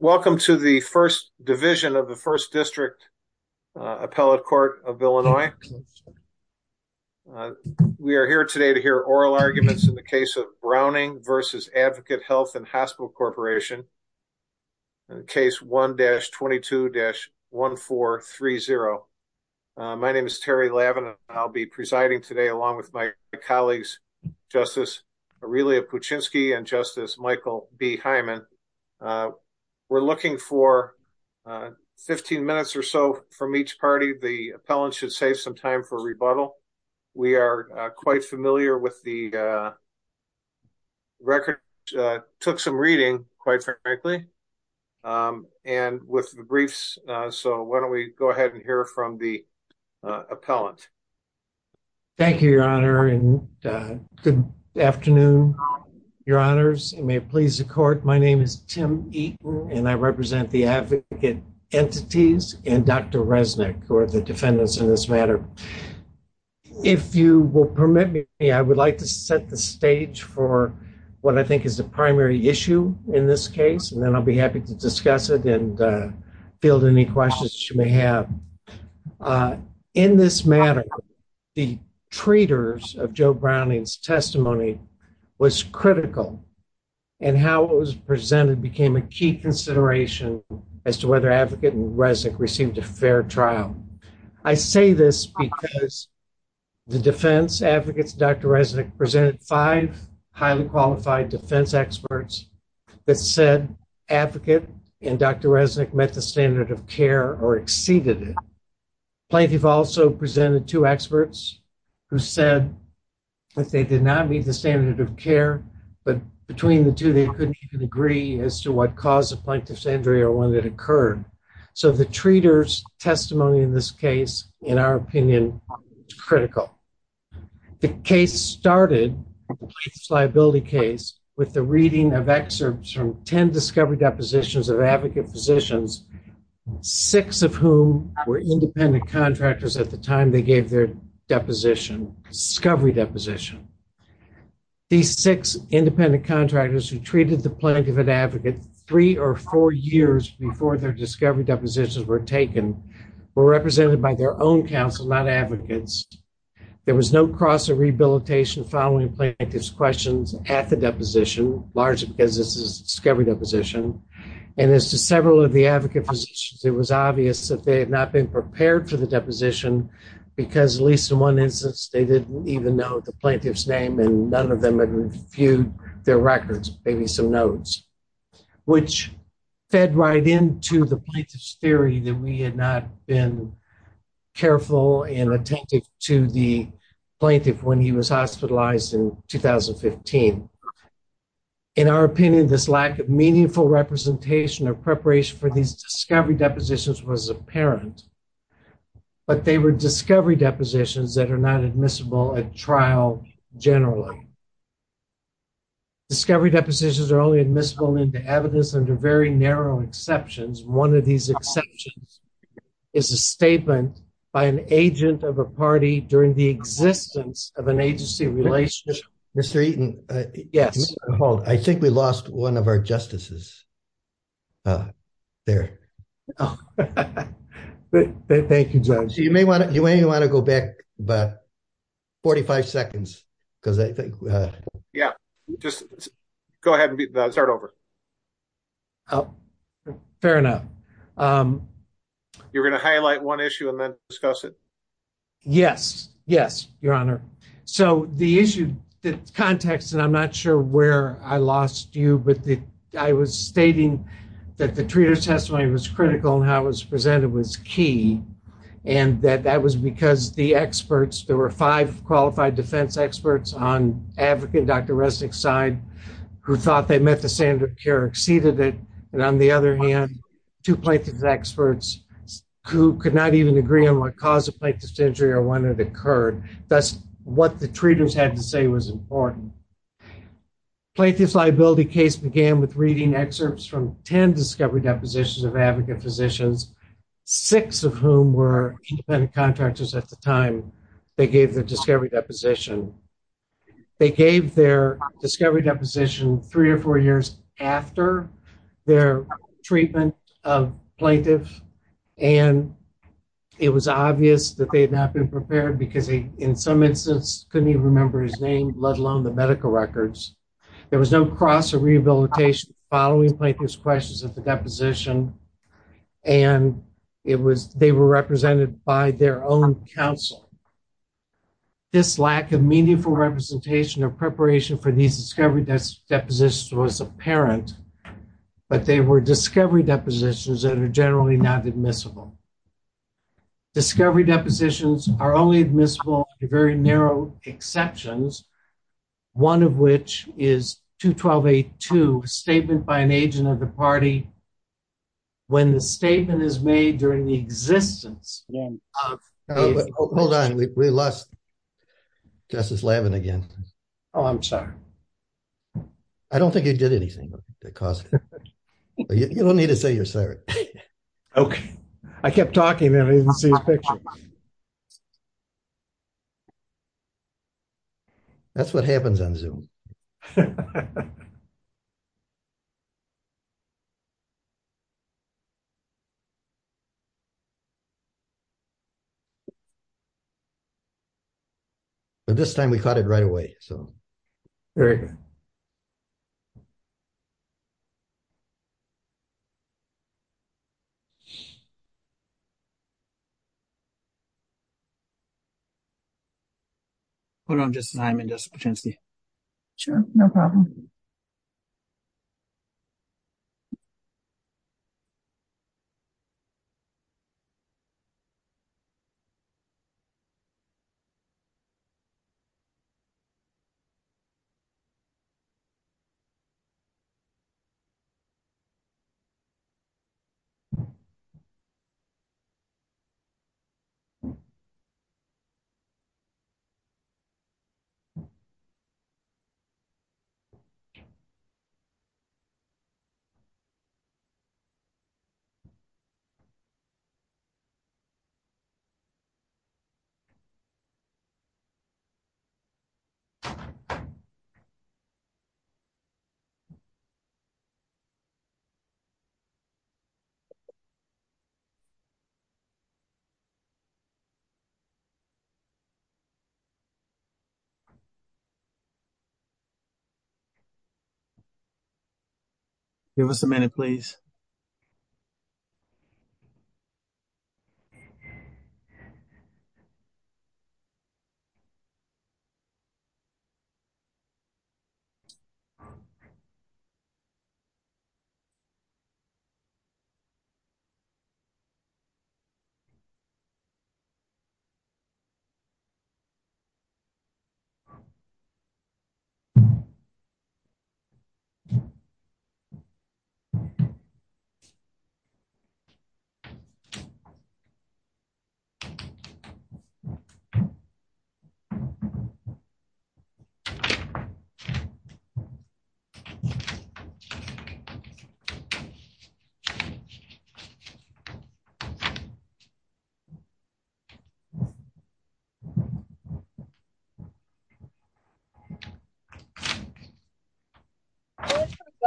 Welcome to the First Division of the First District Appellate Court of Illinois. We are here today to hear oral arguments in the case of Browning v. Advocate Health & Hospital Corporation, Case 1-22-1430. My name is Terry Lavin. I'll be presiding today along with my colleague, Terry Lavin. We're looking for 15 minutes or so from each party. The appellant should save some time for rebuttal. We are quite familiar with the record, took some reading, quite frankly, and with the briefs. So why don't we go ahead and hear from the appellant. Thank you, Your Honor, and good afternoon, Your Honors. It may please the court. My name is Tim Eaton, and I represent the advocate entities and Dr. Resnick, who are the defendants in this matter. If you will permit me, I would like to set the stage for what I think is the primary issue in this case, and then I'll be happy to discuss it and field any questions you may have. In this matter, the treaters of Joe Browning's testimony was critical, and how it was presented became a key consideration as to whether Advocate and Resnick received a fair trial. I say this because the defense advocates, Dr. Resnick, presented five highly qualified defense experts that said Advocate and Dr. Resnick met the standard of care. Plaintiff also presented two experts who said that they did not meet the standard of care, but between the two, they couldn't even agree as to what caused the plaintiff's injury or when it occurred. So the treaters' testimony in this case, in our opinion, is critical. The case started, the case liability case, with the reading of excerpts from 10 discovery depositions of Advocate physicians, six of whom were independent contractors at the time they gave their deposition, discovery deposition. These six independent contractors who treated the plaintiff and Advocate three or four years before their discovery depositions were taken were represented by their own counsel, not Advocates. There was no cross or rehabilitation following plaintiff's questions at the deposition, largely because this is a discovery deposition, and as to several of the Advocate physicians, it was obvious that they had not been prepared for the deposition because, at least in one instance, they didn't even know the plaintiff's name and none of them had reviewed their records, maybe some notes, which fed right into the plaintiff's been careful and attentive to the plaintiff when he was hospitalized in 2015. In our opinion, this lack of meaningful representation or preparation for these discovery depositions was apparent, but they were discovery depositions that are not admissible at trial generally. Discovery depositions are only admissible into evidence under very narrow exceptions. One of these exceptions is a statement by an agent of a party during the existence of an agency relationship. Mr. Eaton, I think we lost one of our justices there. Thank you, Judge. You may want to go back about 45 seconds because I think... Yeah, just go ahead and start over. Fair enough. You're going to highlight one issue and then discuss it? Yes, yes, Your Honor. So, the issue, the context, and I'm not sure where I lost you, but I was stating that the treater's testimony was critical and how it was presented was key, and that that was because the experts, there were five qualified defense experts on Advocate and Dr. Resnick's side who thought they met the standard of care, exceeded it, and on the other hand, two plaintiff's experts who could not even agree on what caused the plaintiff's injury or when it occurred. Thus, what the treaters had to say was important. Plaintiff's liability case began with reading excerpts from 10 discovery depositions of Advocate physicians, six of whom were independent contractors at the time they gave the discovery deposition. They gave their discovery deposition three or four years after their treatment of plaintiff, and it was obvious that they had not been prepared because they, in some instances, couldn't even remember his name, let alone the medical records. There was no cross or rehabilitation following plaintiff's questions at the deposition, and they were represented by their own counsel. This lack of meaningful representation of preparation for these discovery depositions was apparent, but they were discovery depositions that are generally not admissible. Discovery depositions are only admissible to very narrow exceptions, one of which is 212A2, a statement by an agent of the party when the statement is made during the existence... Hold on, we lost Justice Lavin again. Oh, I'm sorry. I don't think he did anything that caused it. You don't need to say you're sorry. Okay. I kept talking and I didn't see his picture. That's what happens on Zoom. But this time we caught it right away, so... Hold on, Justice Hyman, Justice Patenski. Sure, no problem. Give us a minute, please.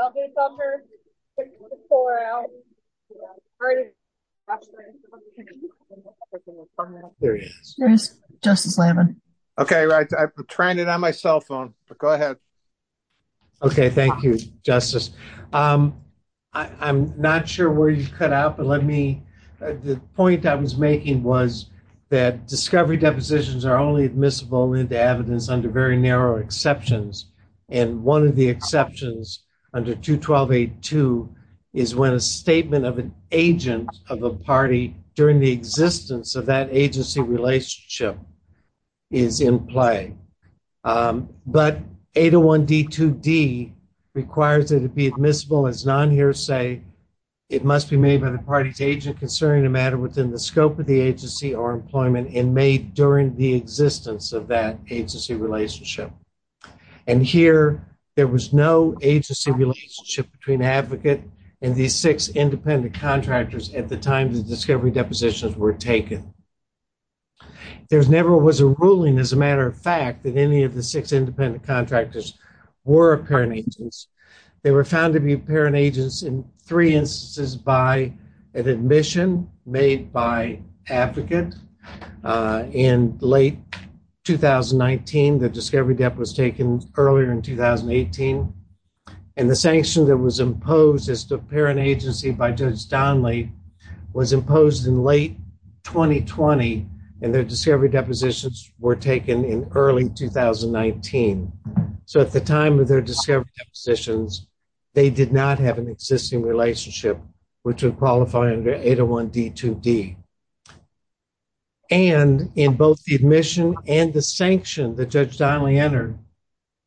Okay, right. I'm trying it on my cell phone, but go ahead. Okay, thank you, Justice. I'm not sure where you cut out, but let me... The point I was making was that discovery depositions are only admissible into evidence under very narrow exceptions, and one of the exceptions under 212A2 is when a statement of an agent of a party during the existence of that agency relationship is in play. But 801D2D requires that it be admissible as non-hearsay. It must be made by the party's agent concerning a matter within the scope of the agency and made during the existence of that agency relationship. And here, there was no agency relationship between the advocate and these six independent contractors at the time the discovery depositions were taken. There never was a ruling, as a matter of fact, that any of the six independent contractors were apparent agents. They were found to be apparent agents in three years. In late 2019, the discovery debt was taken earlier in 2018, and the sanction that was imposed as the apparent agency by Judge Donley was imposed in late 2020, and their discovery depositions were taken in early 2019. So at the time of their discovery depositions, they did not have an existing relationship which would qualify under 801D2D. And in both the admission and the sanction that Judge Donley entered,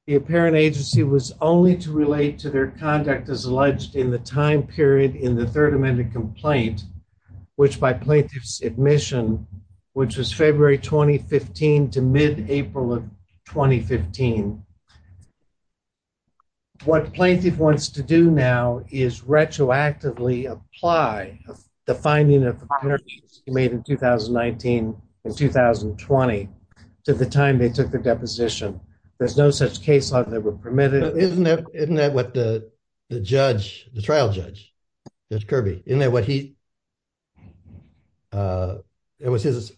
the apparent agency was only to relate to their conduct as alleged in the time period in the Third Amendment complaint, which by plaintiff's is retroactively apply the finding of the apparent agency made in 2019 and 2020 to the time they took the deposition. There's no such case law that were permitted. Isn't that what the trial judge, Judge Kirby, isn't that what he, it was his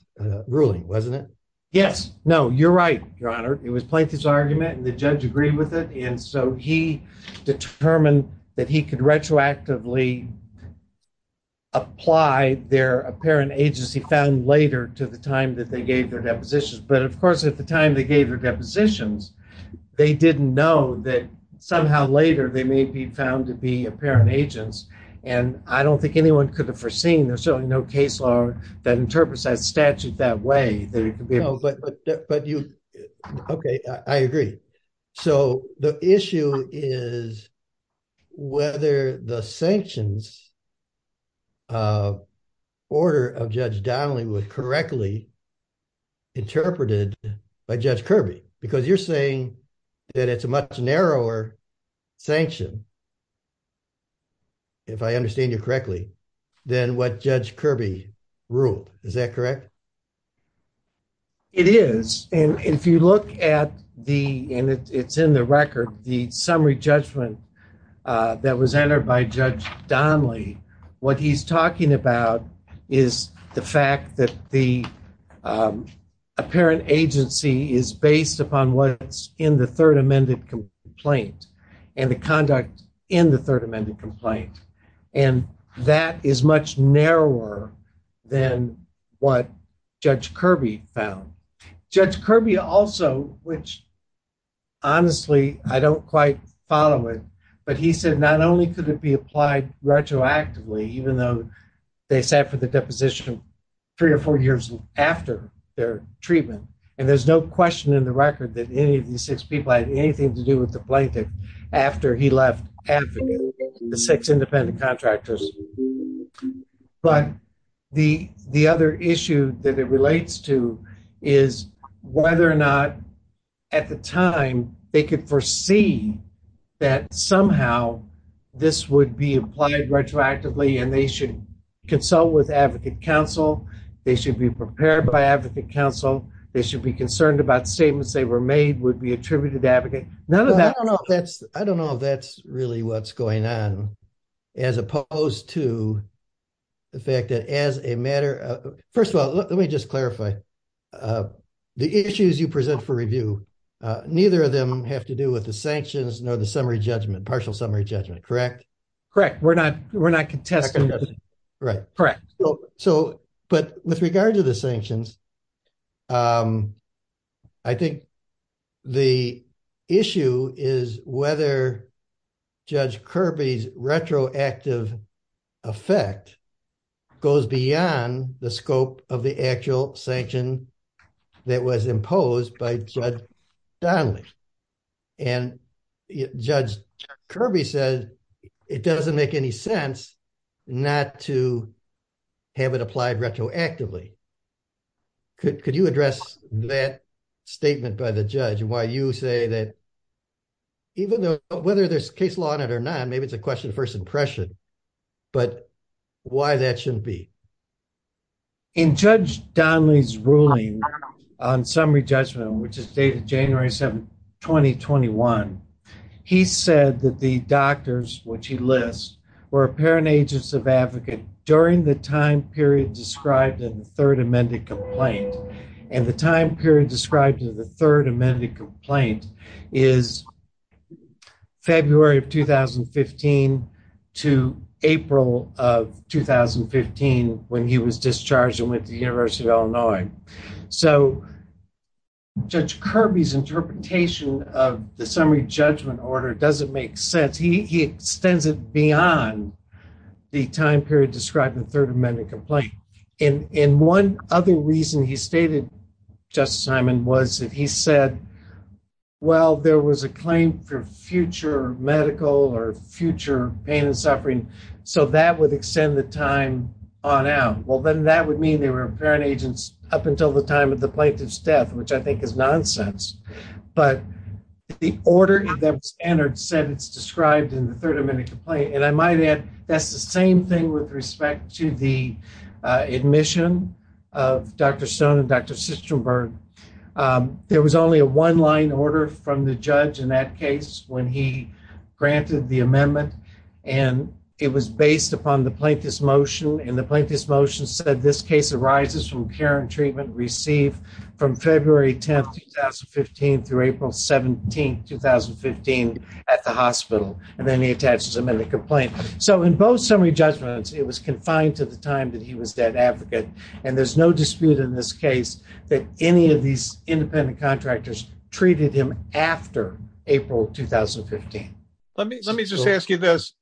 ruling, wasn't it? Yes. No, you're right, Your Honor. It was plaintiff's argument and the judge agreed with it. And so he determined that he could retroactively apply their apparent agency found later to the time that they gave their depositions. But of course, at the time they gave their depositions, they didn't know that somehow later they may be found to be apparent agents. And I don't think anyone could have foreseen there's no case law that interprets that statute that way. No, but you, okay, I agree. So the issue is whether the sanctions order of Judge Donley was correctly interpreted by Judge Kirby, because you're saying that it's a much narrower sanction, if I understand you correctly, than what Judge Kirby ruled. Is that correct? It is. And if you look at the, and it's in the record, the summary judgment that was entered by Judge Donley, what he's talking about is the fact that the apparent agency is based upon what's in the third amended complaint and the conduct in the is much narrower than what Judge Kirby found. Judge Kirby also, which honestly, I don't quite follow it, but he said, not only could it be applied retroactively, even though they sat for the deposition three or four years after their treatment. And there's no question in the record that any of these six people had anything to do with the plaintiff after he left Africa, the six independent contractors. But the other issue that it relates to is whether or not at the time they could foresee that somehow this would be applied retroactively and they should consult with advocate counsel, they should be prepared by advocate counsel, they should be concerned about statements they were made would be attributed to advocate. None of that. I don't know if that's really what's going on as opposed to the fact that as a matter of, first of all, let me just clarify the issues you present for review, neither of them have to do with the sanctions nor the summary judgment, partial summary judgment, correct? Correct. We're not contesting. Right. Correct. So, but with regard to the sanctions, I think the issue is whether Judge Kirby's retroactive effect goes beyond the scope of the actual sanction that was imposed by Judge Donnelly. And Judge Kirby said it doesn't make any sense not to have it applied retroactively. Could you address that statement by the judge? Why you say that even though whether there's case law on it or not, maybe it's a question of first impression, but why that shouldn't be? In Judge Donnelly's ruling on summary judgment, which is dated January 7th, 2021, he said that the doctors, which he lists, were apparent agents of advocate during the time period described in the third amended complaint. And the time period described in the third amended complaint is February of 2015 to April of 2015 when he was discharged and went to the University of Illinois. So Judge Kirby's interpretation of the summary judgment order doesn't make sense. He extends it beyond the time period described in the third amended complaint. And one other reason he stated, Justice Hyman, was that he said, well, there was a claim for future medical or future pain and suffering. So that would extend the time on out. Well, then that would mean they were apparent agents up until the time of the plaintiff's death, which I think is nonsense. But the order that was entered said it's described in the third amended complaint. And I might add, that's the same thing with respect to the admission of Dr. Stone and Dr. Sitzenberg. There was only a one line order from the judge in that case when he granted the amendment. And it was based upon the plaintiff's motion. And the plaintiff's motion said this case arises from care and treatment received from February 10th, 2015 through April 17th, 2015 at the hospital. And then he attaches them in the complaint. So in both summary judgments, it was confined to the time that he was dead advocate. And there's no dispute in this case that any of these independent contractors treated him after April, 2015. Let me just ask you this.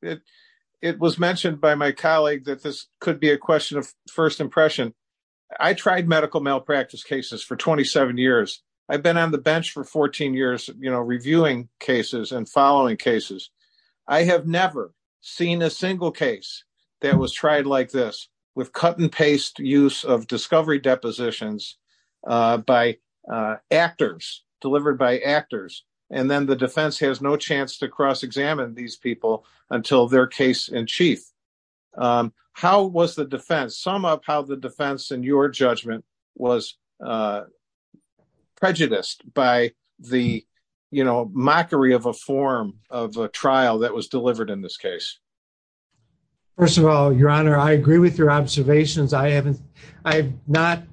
It was mentioned by my colleague that this could be a question of first impression. I tried medical malpractice cases for 27 years. I've been on the bench for 14 years, you know, reviewing cases and following cases. I have never seen a single case that was tried like this with cut and paste use of discovery depositions by actors, delivered by actors. And then the defense has no chance to cross examine these people until their case in chief. How was the defense, sum up how the defense in your judgment was prejudiced by the, you know, mockery of a form of a trial that was delivered in this case? First of all, your honor, I agree with your observations. I haven't, I have not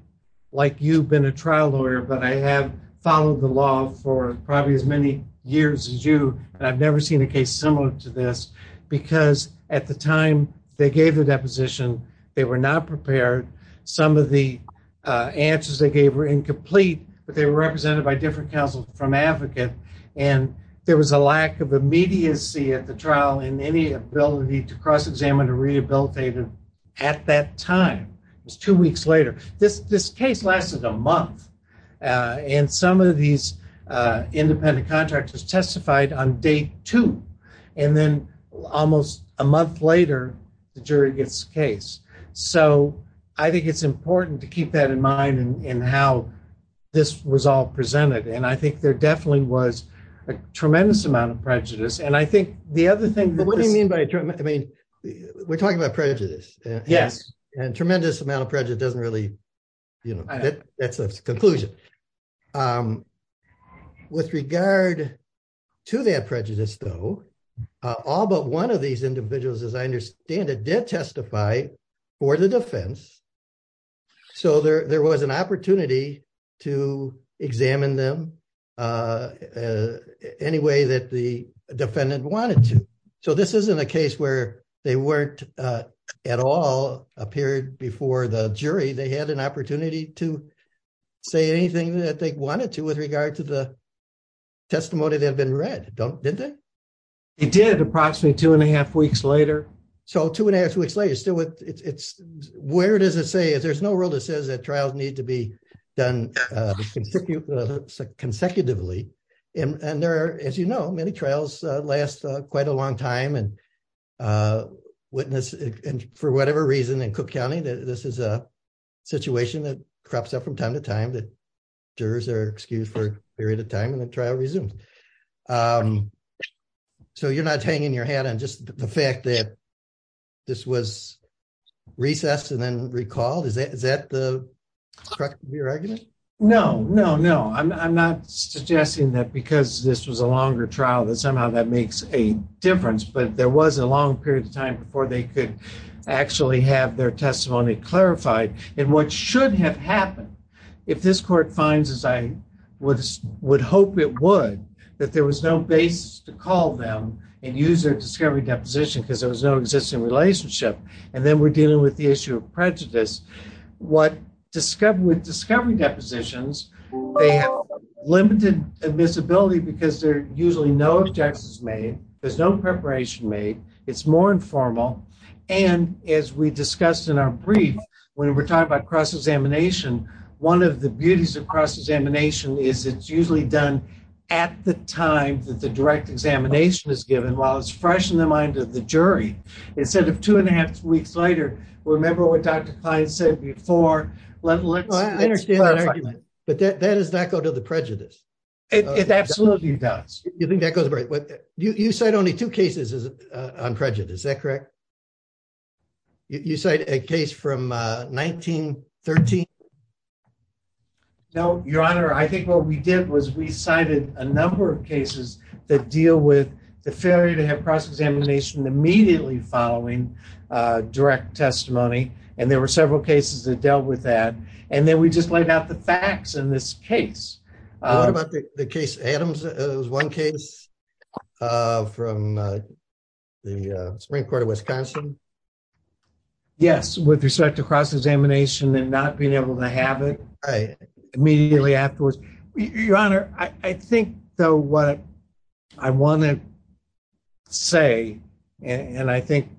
like you been a trial lawyer, but I have followed the law for probably as many years as you, and I've never seen a case similar to this because at the time they gave the deposition, they were not prepared. Some of the answers they gave were incomplete, but they were represented by different counsel from advocate, and there was a lack of immediacy at the trial in any ability to cross examine a rehabilitative at that time. It was two weeks later. This case lasted a month, and some of these independent contractors testified on day two, and then almost a month later, the jury gets the case. So I think it's important to keep that in mind in how this was all presented, and I think there definitely was a tremendous amount of prejudice, and I think the other thing... What do you mean by... I mean, we're talking about prejudice. Yes. And tremendous amount of prejudice doesn't really, you know, that's a conclusion. With regard to that prejudice though, all but one of these individuals, as I understand it, did testify for the defense, so there was an opportunity to examine them any way that the defendant wanted to. So this isn't a case where they weren't at all appeared before the jury. They had an opportunity to say anything that they wanted to with regard to the testimony that had been read, didn't they? They did approximately two and a half weeks later. So two and a half weeks later, still with... Where does it say? There's no rule that says that trials need to be done consecutively, and there are, as you know, many trials last quite a long time, and for whatever reason in Cook County, this is a situation that crops up from time to time that jurors are excused for a period of time, and the trial resumes. So you're not hanging your hat on just the fact that this was recessed and then recalled? Is that the correct of your argument? No, no, no. I'm not suggesting that because this was a longer trial, that somehow that makes a difference, but there was a long period of time before they could actually have their testimony clarified. And what should have happened, if this court finds, as I would hope it would, that there was no basis to call them and use their discovery deposition because there was no existing relationship, and then we're dealing with the issue of prejudice. With discovery depositions, they have limited admissibility because there are usually no objections made, there's no preparation made, it's more informal, and as we discussed in our brief, when we're talking about cross-examination, one of the beauties of cross-examination is it's usually done at the time that the direct examination is given, while it's fresh in the mind of the jury. Instead of two and a half weeks later, remember what Dr. Klein said before, let's... I understand that argument, but that does not go to the prejudice. It absolutely does. You think that goes... You cite only two cases on prejudice, is that correct? You cite a case from 1913? No, your honor, I think what we did was we cited a number of cases that deal with the failure to have cross-examination immediately following direct testimony, and there were several cases that dealt with that, and then we just laid out the facts in this case. What about the case Adams? It was one case from the Supreme Court of Wisconsin? Yes, with respect to cross-examination and not being able to have it immediately afterwards. Your honor, I think though what I want to say, and I think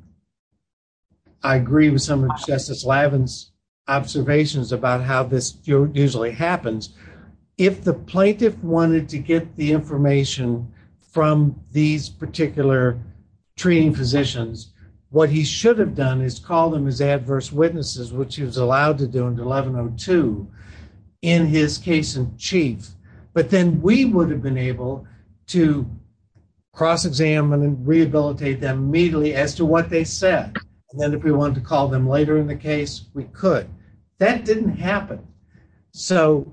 I agree with some of this usually happens, if the plaintiff wanted to get the information from these particular treating physicians, what he should have done is called them as adverse witnesses, which he was allowed to do in 1102 in his case in chief, but then we would have been able to cross-examine and rehabilitate them immediately as to what they said, and then if we wanted to call them later in the case, we could. That didn't happen, so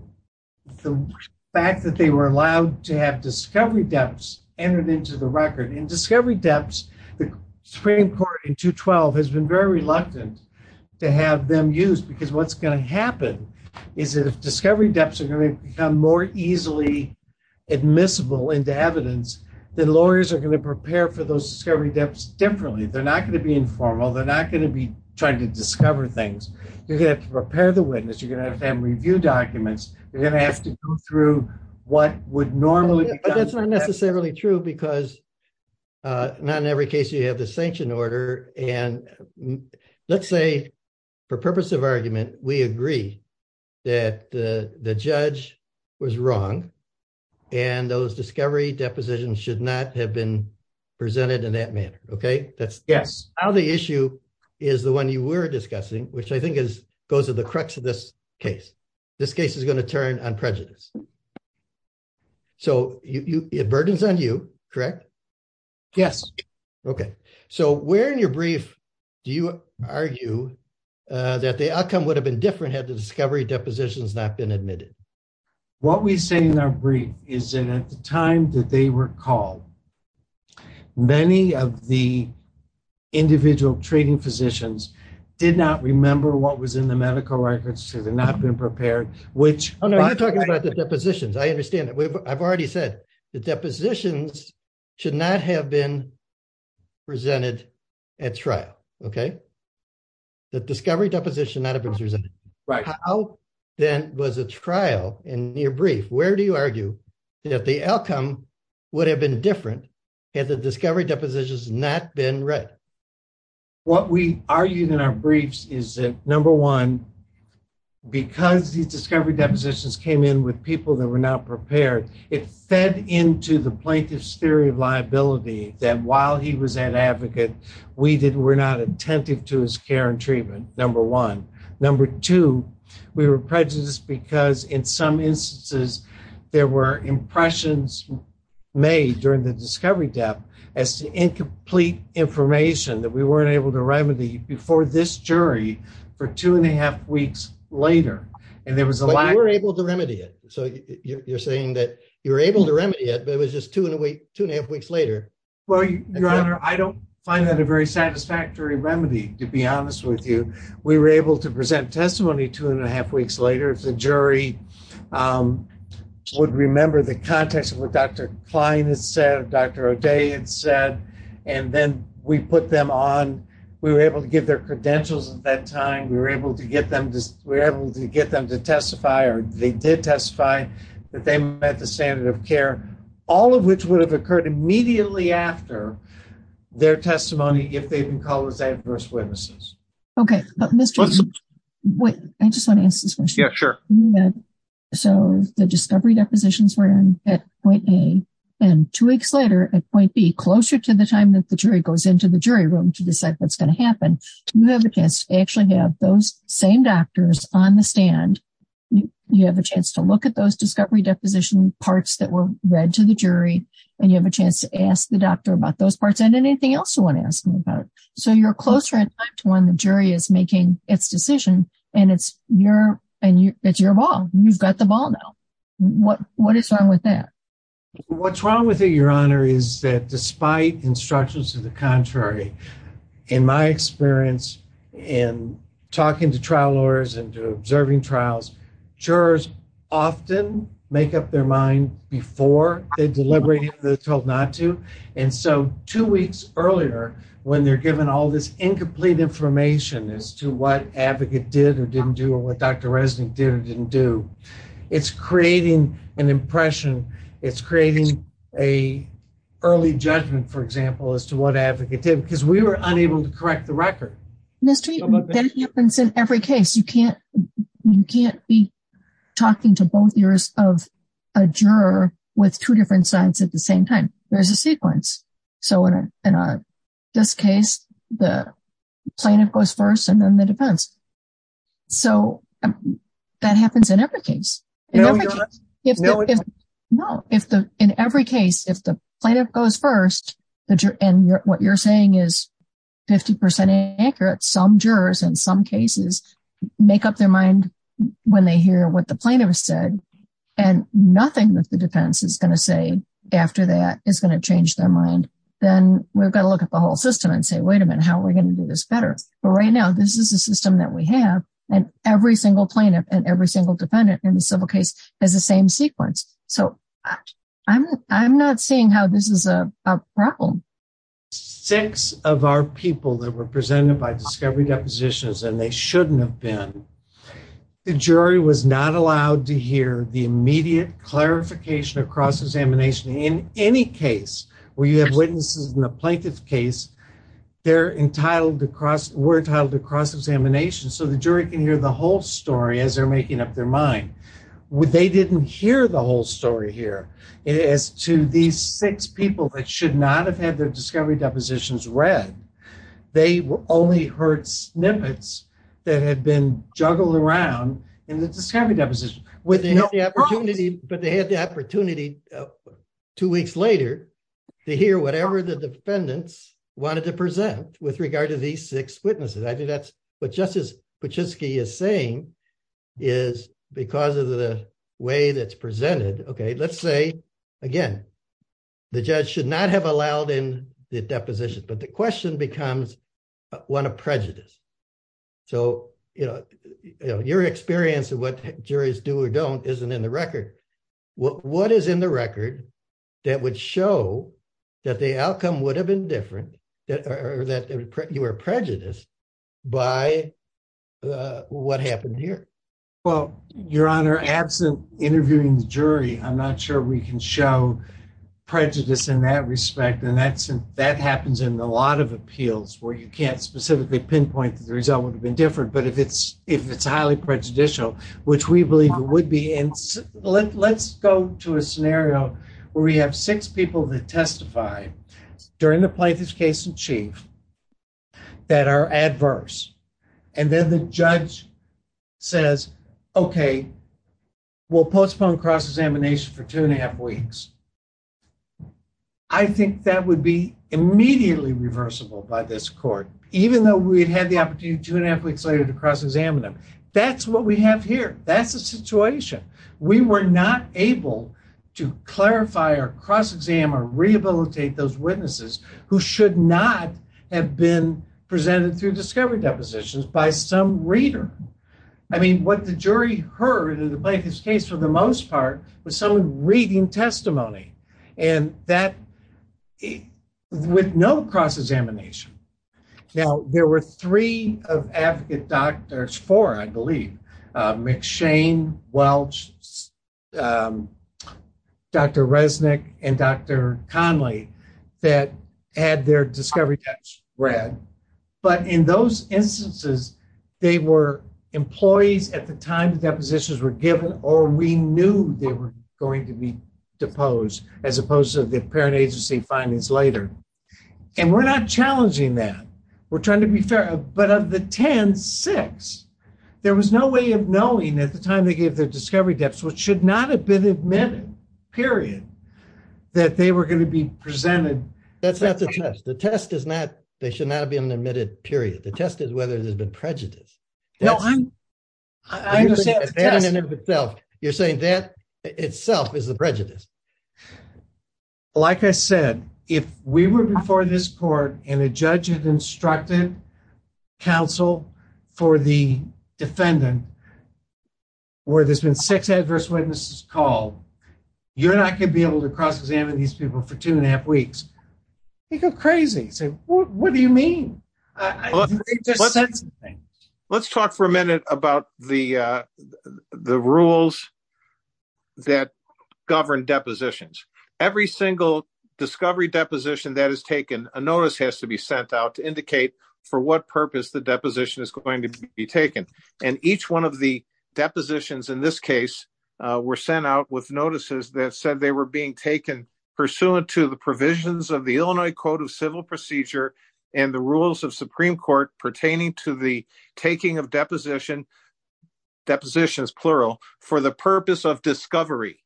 the fact that they were allowed to have discovery depths entered into the record, and discovery depths, the Supreme Court in 212 has been very reluctant to have them used, because what's going to happen is that if discovery depths are going to become more easily admissible into evidence, then lawyers are going to prepare for those discovery depths differently. They're not going to be informal, they're not going to be trying to discover things. You're going to have to prepare the witness, you're going to have them review documents, you're going to have to go through what would normally... That's not necessarily true, because not in every case you have the sanction order, and let's say for purpose of argument, we agree that the judge was wrong, and those discovery depositions should not have been presented in that manner, okay? Yes. Now the issue is the one you were discussing, which I think goes to the crux of this case. This case is going to turn on prejudice, so it burdens on you, correct? Yes. Okay, so where in your brief do you argue that the outcome would have been different had the discovery depositions not been admitted? What we say in our brief is that at the time that they were called, many of the individual treating physicians did not remember what was in the medical records, should have not been prepared, which... Oh no, you're talking about the depositions. I understand that. I've already said the depositions should not have been presented at trial, okay? The discovery deposition not have been presented. Right. How then was a trial in your brief, where do you would have been different had the discovery depositions not been read? What we argued in our briefs is that, number one, because these discovery depositions came in with people that were not prepared, it fed into the plaintiff's theory of liability that while he was an advocate, we were not attentive to his care and treatment, number one. Number two, we were prejudiced because in some instances, there were impressions made during the discovery depth as to incomplete information that we weren't able to remedy before this jury for two and a half weeks later. And there was a lot... You were able to remedy it. So you're saying that you were able to remedy it, but it was just two and a half weeks later. Well, your honor, I don't find that a very long time. I find that it was just two and a half weeks later. If the jury would remember the context of what Dr. Klein had said, Dr. O'Day had said, and then we put them on, we were able to get their credentials at that time. We were able to get them to testify, or they did testify that they met the standard of care, all of which would have occurred immediately after their testimony if they'd been called as adverse witnesses. Okay. I just want to ask this question. Yeah, sure. So the discovery depositions were in at point A, and two weeks later at point B, closer to the time that the jury goes into the jury room to decide what's going to happen, you have a chance to actually have those same doctors on the stand. You have a chance to look at those discovery deposition parts that were read to the jury, and you have a chance to ask the doctor about those parts and anything else you want to ask about. So you're closer in time to when the jury is making its decision, and it's your ball. You've got the ball now. What is wrong with that? What's wrong with it, Your Honor, is that despite instructions to the contrary, in my experience in talking to trial lawyers and to observing trials, jurors often make up their mind before they deliberate if they're told not to. And so two weeks earlier, when they're given all this incomplete information as to what advocate did or didn't do or what Dr. Resnick did or didn't do, it's creating an impression. It's creating a early judgment, for example, as to what advocate did, because we were unable to correct the record. Ms. Treatman, that happens in every case. You can't be talking to both ears of a juror with two different sides at the same time. There's a sequence. So in this case, the plaintiff goes first and then the defense. So that happens in every case. In every case, if the plaintiff goes first, and what you're saying is 50% accurate, some jurors in some cases make up their mind when they hear what the plaintiff said, and nothing that the defense is going to say after that is going to change their mind, then we've got to look at the whole system and say, wait a minute, how are we going to do this better? But right now, this is the system that we have, and every single plaintiff and every single defendant in the civil case has the same sequence. So I'm not seeing how this is a problem. Six of our people that were presented by discovery depositions, and they shouldn't have been, the jury was not allowed to hear the immediate clarification of cross-examination. In any case where you have witnesses in a plaintiff case, we're entitled to cross-examination, so the jury can hear the whole story as they're making up their mind. They didn't hear the whole story here. As to these six people that should not have their discovery depositions read, they only heard snippets that had been juggled around in the discovery deposition. But they had the opportunity two weeks later to hear whatever the defendants wanted to present with regard to these six witnesses. I think that's what Justice Paczynski is saying is because of the way that's presented. Okay, let's say again, the judge should not have allowed in the deposition, but the question becomes one of prejudice. So, you know, your experience of what juries do or don't isn't in the record. What is in the record that would show that the outcome would have been different or that you were prejudiced by what happened here? Well, Your Honor, absent interviewing the jury, I'm not sure we can show prejudice in that respect. And that happens in a lot of appeals where you can't specifically pinpoint that the result would have been different. But if it's highly prejudicial, which we believe it would be, and let's go to a scenario where we have six people that testify during the plaintiff's case in chief that are adverse. And then the judge says, okay, we'll postpone cross-examination for two and a half weeks. I think that would be immediately reversible by this court, even though we'd had the opportunity two and a half weeks later to cross-examine them. That's what we have here. That's the situation. We were not able to clarify or cross-examine or rehabilitate those witnesses who should not have been presented through discovery depositions by some reader. I mean, what the jury heard in the plaintiff's case for the most part was someone reading testimony with no cross-examination. Now, there were three of advocate doctors, four, I believe, McShane, Welch, Dr. Resnick, and Dr. Conley that had their discovery text read. But in those instances, they were employees at the time the depositions were given or we knew they were going to be deposed as opposed to the parent agency findings later. And we're not challenging that. We're the discovery depths which should not have been admitted, period, that they were going to be presented. That's not the test. The test is not they should not have been admitted, period. The test is whether there's been prejudice. No, I understand. You're saying that itself is a prejudice. Like I said, if we were before this court and a judge had instructed counsel for the six adverse witnesses called, you're not going to be able to cross-examine these people for two and a half weeks. You go crazy. What do you mean? Let's talk for a minute about the rules that govern depositions. Every single discovery deposition that is taken, a notice has to be sent out to indicate for what purpose the deposition is going to be taken. And each one of the depositions in this case were sent out with notices that said they were being taken pursuant to the provisions of the Illinois Code of Civil Procedure and the rules of Supreme Court pertaining to the taking of depositions, plural, for the purpose of discovery,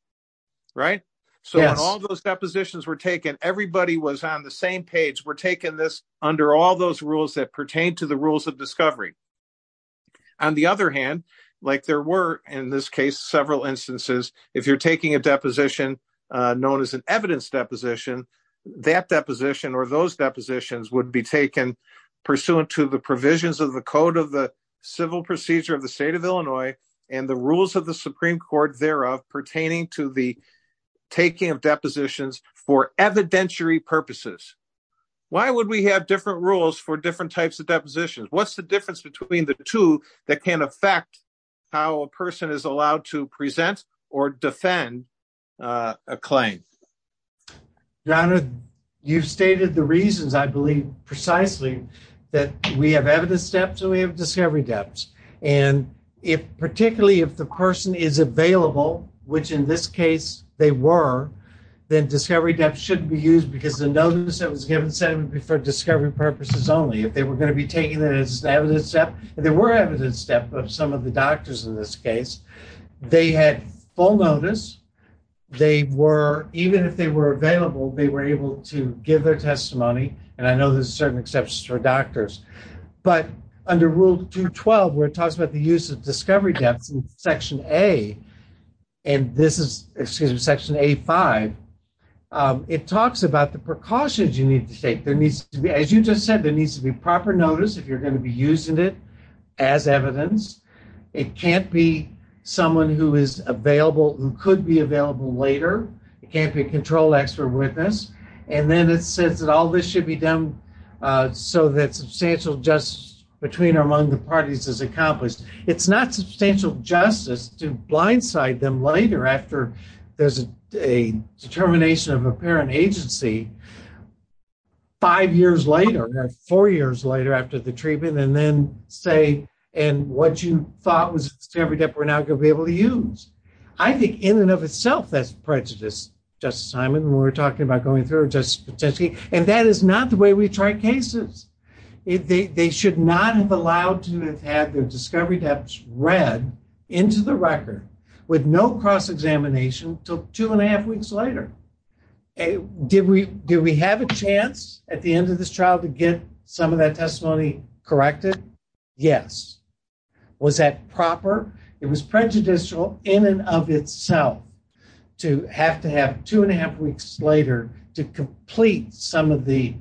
right? So when all those depositions were taken, everybody was on the same page. We're taking this under all those rules that in this case, several instances, if you're taking a deposition known as an evidence deposition, that deposition or those depositions would be taken pursuant to the provisions of the Code of the Civil Procedure of the State of Illinois and the rules of the Supreme Court thereof pertaining to the taking of depositions for evidentiary purposes. Why would we have different rules for different types of depositions? What's the difference between the two that can affect how a person is allowed to present or defend a claim? Your Honor, you've stated the reasons, I believe, precisely that we have evidence steps and we have discovery depths. And particularly if the person is available, which in this case they were, then discovery depth shouldn't be used because the notice that was given said it would be for discovery purposes only. If they were going to be taking it as an evidence step, and there were evidence steps of some of the doctors in this case, they had full notice. They were, even if they were available, they were able to give their testimony. And I know there's certain exceptions for doctors. But under Rule 212, where it talks about the use of discovery depths in Section A, and this is, excuse me, Section A5, it talks about the precautions you need to take. There needs to be, as you just said, there needs to be proper notice if you're going to be using it as evidence. It can't be someone who is available, who could be available later. It can't be a control expert witness. And then it says that all this should be done so that substantial justice between or among the parties is accomplished. It's not substantial justice to blindside them later after there's a determination of a parent agency, five years later, four years later after the treatment, and then say, and what you thought was a discovery depth we're now going to be able to use. I think in and of itself, that's prejudice, Justice Simon, when we're talking about going through it, Justice Patensky. And that is not the way we try cases. They should not have allowed to have had their discovery depths read into the record with no cross-examination until two and a half weeks later. Did we have a chance at the end of this trial to get some of that testimony corrected? Yes. Was that proper? It was prejudicial in and of itself to have to have two and a half weeks later to complete some of the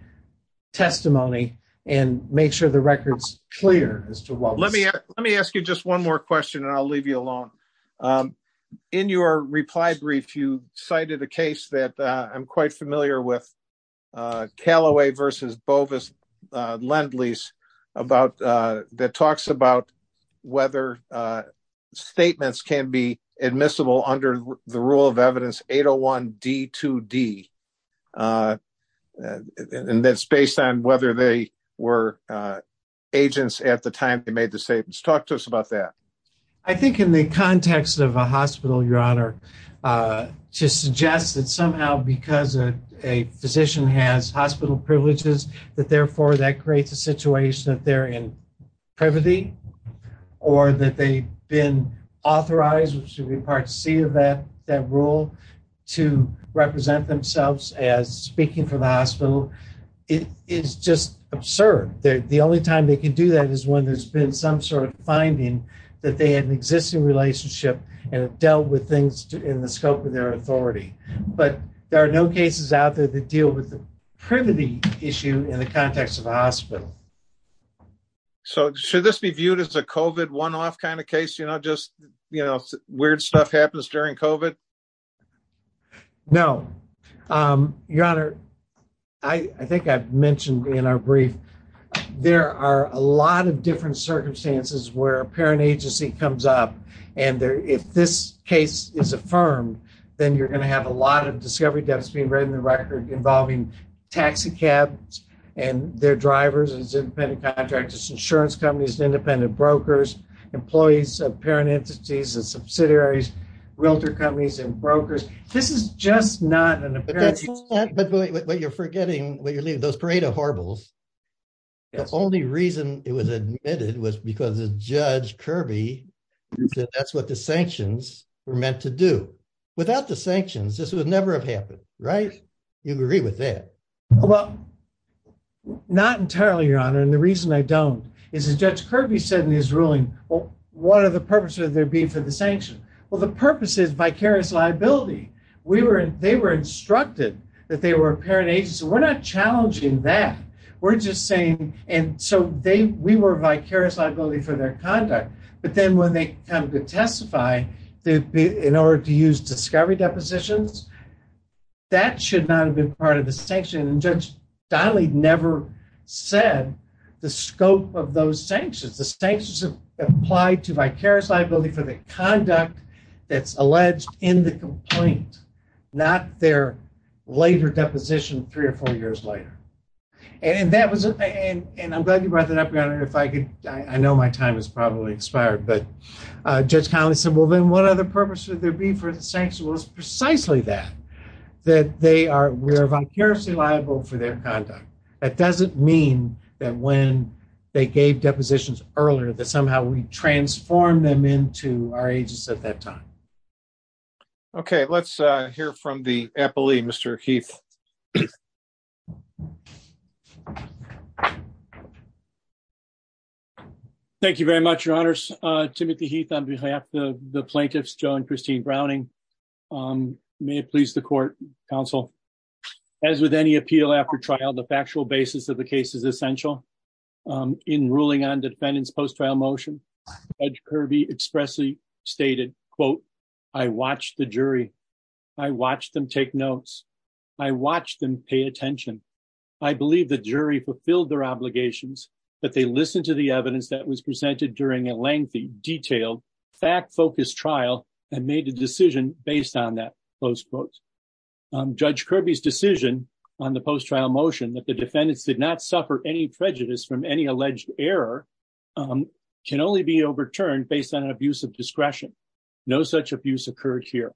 testimony and make sure the record's clear as to what was said. Let me ask you just one more question and I'll leave you alone. In your reply brief, you cited a case that I'm quite familiar with, Callaway v. Bovis-Lendleys, that talks about whether statements can be admissible under the rule of evidence 801-D2D, and that's based on whether they were agents at the time they made the statements. Talk to us about that. I think in the context of a hospital, Your Honor, to suggest that somehow because a physician has hospital privileges that therefore that creates a situation that they're in privity or that they've been authorized, which would be part C of that rule, to represent themselves as speaking for the hospital is just absurd. The only time they can do that is when there's been some sort of finding that they had an existing relationship and have dealt with things in the scope of their authority. But there are no cases out there that deal with the privity issue in the context of a hospital. So should this be viewed as a COVID one-off kind of case? You know, just weird stuff happens during COVID? No. Your Honor, I think I've heard of different circumstances where a parent agency comes up and if this case is affirmed, then you're going to have a lot of discovery deaths being read in the record involving taxi cabs and their drivers as independent contractors, insurance companies, independent brokers, employees of parent entities and subsidiaries, realtor companies and brokers. This is just not an those parade of horribles. The only reason it was admitted was because Judge Kirby said that's what the sanctions were meant to do. Without the sanctions, this would never have happened, right? You agree with that? Well, not entirely, Your Honor. And the reason I don't is that Judge Kirby said in his ruling, well, what are the purposes there be for the sanction? Well, the purpose is vicarious liability. They were instructed that they were a parent agency. We're not challenging that. We're just saying, and so we were vicarious liability for their conduct. But then when they come to testify, in order to use discovery depositions, that should not have been part of the sanction. And Judge Donnelly never said the scope of those sanctions. The sanctions have applied to vicarious liability for the conduct that's alleged in the complaint, not their later deposition three or four years later. And that was, and I'm glad you brought that up, Your Honor. If I could, I know my time has probably expired, but Judge Donnelly said, well, then what other purpose would there be for the sanction? Well, it's precisely that. That they are, we're vicariously liable for their conduct. That doesn't mean that when they gave depositions earlier, that somehow we transformed them into our agents at that time. Okay, let's hear from the appellee, Mr. Heath. Thank you very much, Your Honors. Timothy Heath on behalf of the plaintiffs, Joe and Christine the factual basis of the case is essential. In ruling on defendant's post-trial motion, Judge Kirby expressly stated, quote, I watched the jury. I watched them take notes. I watched them pay attention. I believe the jury fulfilled their obligations, but they listened to the evidence that was presented during a lengthy, detailed, fact-focused trial and made a decision based on that, close quotes. Judge Kirby's decision on the post-trial motion that the defendants did not suffer any prejudice from any alleged error can only be overturned based on an abuse of discretion. No such abuse occurred here.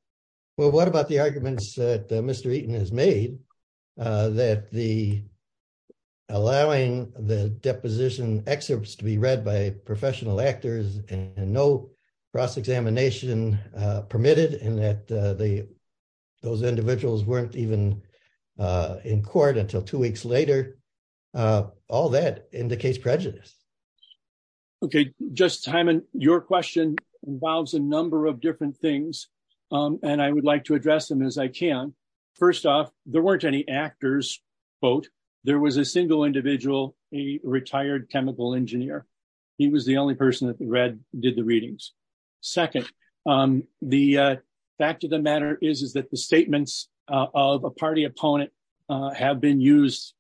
Well, what about the arguments that Mr. Eaton has made that the allowing the deposition excerpts to be read by professional actors and no cross-examination permitted and that those individuals weren't even in court until two weeks later? All that indicates prejudice. Okay, Justice Hyman, your question involves a number of different things, and I would like to address them as I can. First off, there weren't any actors, quote. There was a single individual, a retired chemical engineer. He was the only person that did the readings. Second, the fact of the matter is that the statements of a party opponent have been used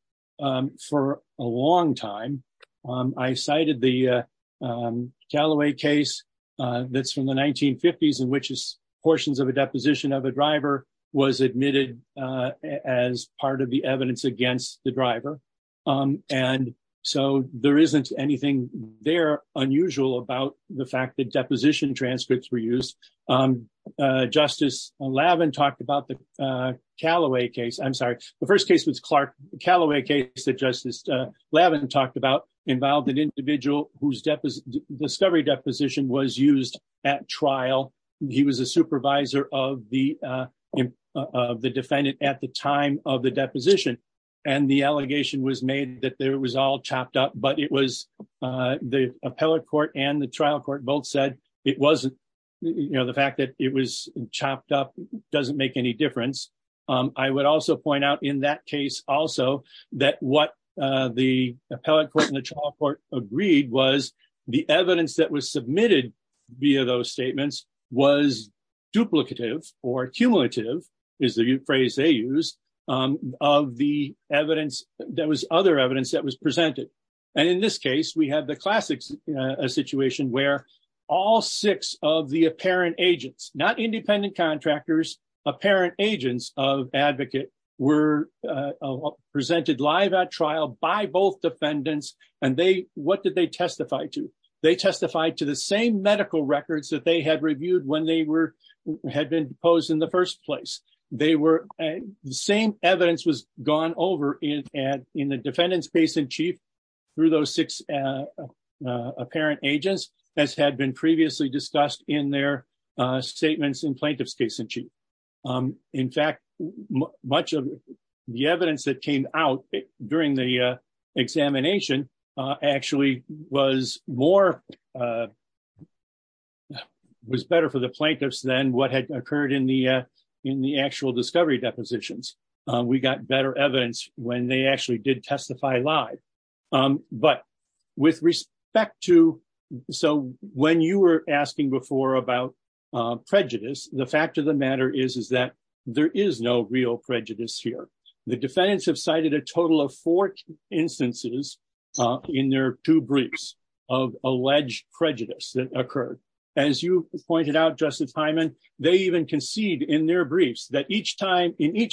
for a long time. I cited the Galloway case that's from the 1950s in which portions of a deposition of a driver was admitted as part of the evidence against the driver, and so there isn't anything there unusual about the fact that deposition transcripts were used. Justice Lavin talked about the Galloway case. I'm sorry, the first case was Clark. The Galloway case that Justice Lavin talked about involved an individual whose discovery deposition was used at trial. He was a supervisor of the defendant at the time of the deposition, and the allegation was made that it was all chopped up, but the appellate court and the trial court both said the fact that it was chopped up doesn't make any difference. I would also point out in that case also that what the appellate court and the trial court agreed was the evidence that was submitted via those statements was duplicative or cumulative, is the phrase they used, of the evidence that was other evidence that was presented. In this case, we have the classic situation where all six of the apparent agents, not independent contractors, apparent agents of advocate were presented live at trial by both defendants, and what did they testify to? They testified to the same medical records that they had reviewed when they had been deposed in the same evidence was gone over in the defendant's case in chief through those six apparent agents as had been previously discussed in their statements in plaintiff's case in chief. In fact, much of the evidence that came out during the examination actually was better for the depositions. We got better evidence when they actually did testify live. When you were asking before about prejudice, the fact of the matter is that there is no real prejudice here. The defendants have cited a total of four instances in their two briefs of alleged prejudice that occurred. As you pointed out, Justice Hyman, they even concede in their briefs that each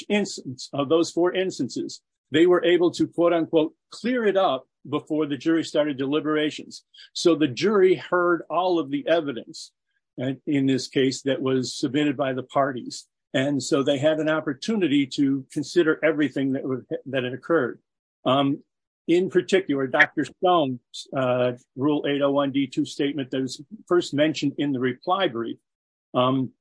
instance of those four instances, they were able to, quote unquote, clear it up before the jury started deliberations. The jury heard all of the evidence in this case that was submitted by the parties. They had an opportunity to consider everything that had occurred. In particular, Dr. Stone's Rule 801 D2 statement that was first mentioned in the reply brief, um,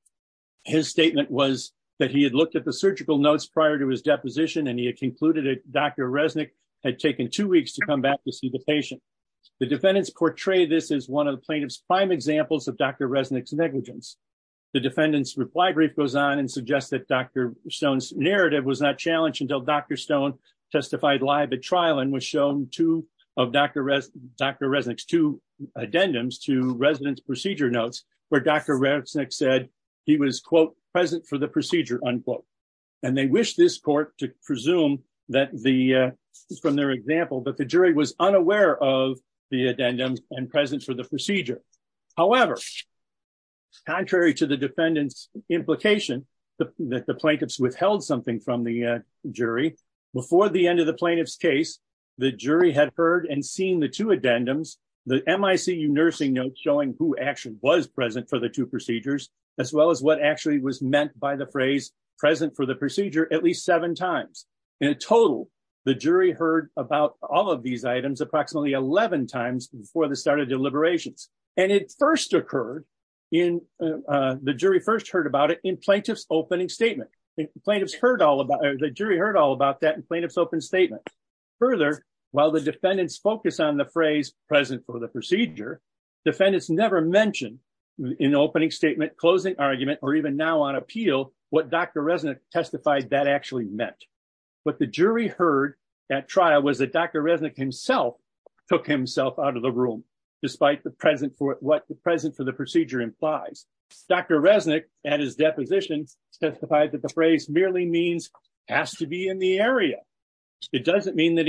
his statement was that he had looked at the surgical notes prior to his deposition and he had concluded that Dr. Resnick had taken two weeks to come back to see the patient. The defendants portray this as one of the plaintiff's prime examples of Dr. Resnick's negligence. The defendant's reply brief goes on and suggests that Dr. Stone's narrative was not challenged until Dr. Stone testified live at trial and was shown two of Dr. Resnick's two addendums to resident's procedure notes where Dr. Resnick said he was, quote, present for the procedure, unquote. And they wish this court to presume that the, from their example, that the jury was unaware of the addendum and present for the procedure. However, contrary to the defendant's implication that the plaintiff's withheld something from the jury, before the end of the plaintiff's case, the jury had heard and seen the two addendums, the MICU nursing notes showing who actually was present for the two procedures, as well as what actually was meant by the phrase present for the procedure at least seven times. In total, the jury heard about all of these items approximately 11 times before the start of deliberations. And it first occurred in, uh, the jury first heard about it in plaintiff's opening statement. Plaintiff's heard all about, the jury heard all about that in plaintiff's open statement. Further, while the defendants focus on the phrase present for the procedure, defendants never mentioned in opening statement, closing argument, or even now on appeal, what Dr. Resnick testified that actually meant. What the jury heard at trial was that Dr. Resnick himself took himself out of the room, despite the present for what the present for the procedure implies. Dr. Resnick at his deposition testified that the phrase merely means has to be in the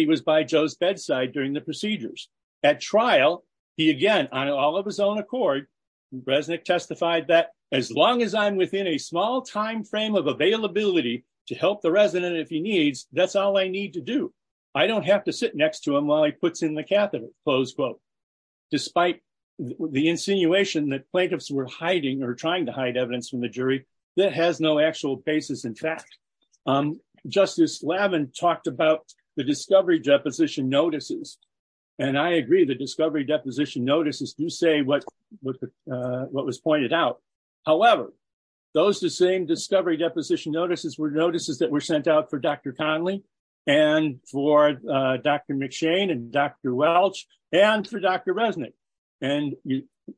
was by Joe's bedside during the procedures. At trial, he, again, on all of his own accord, Resnick testified that as long as I'm within a small timeframe of availability to help the resident if he needs, that's all I need to do. I don't have to sit next to him while he puts in the catheter, close quote. Despite the insinuation that plaintiffs were hiding or trying to hide from the jury, that has no actual basis in fact. Justice Lavin talked about the discovery deposition notices. I agree, the discovery deposition notices do say what was pointed out. However, those same discovery deposition notices were notices that were sent out for Dr. Conley, and for Dr. McShane, and Dr. Welch, and for Dr. Resnick.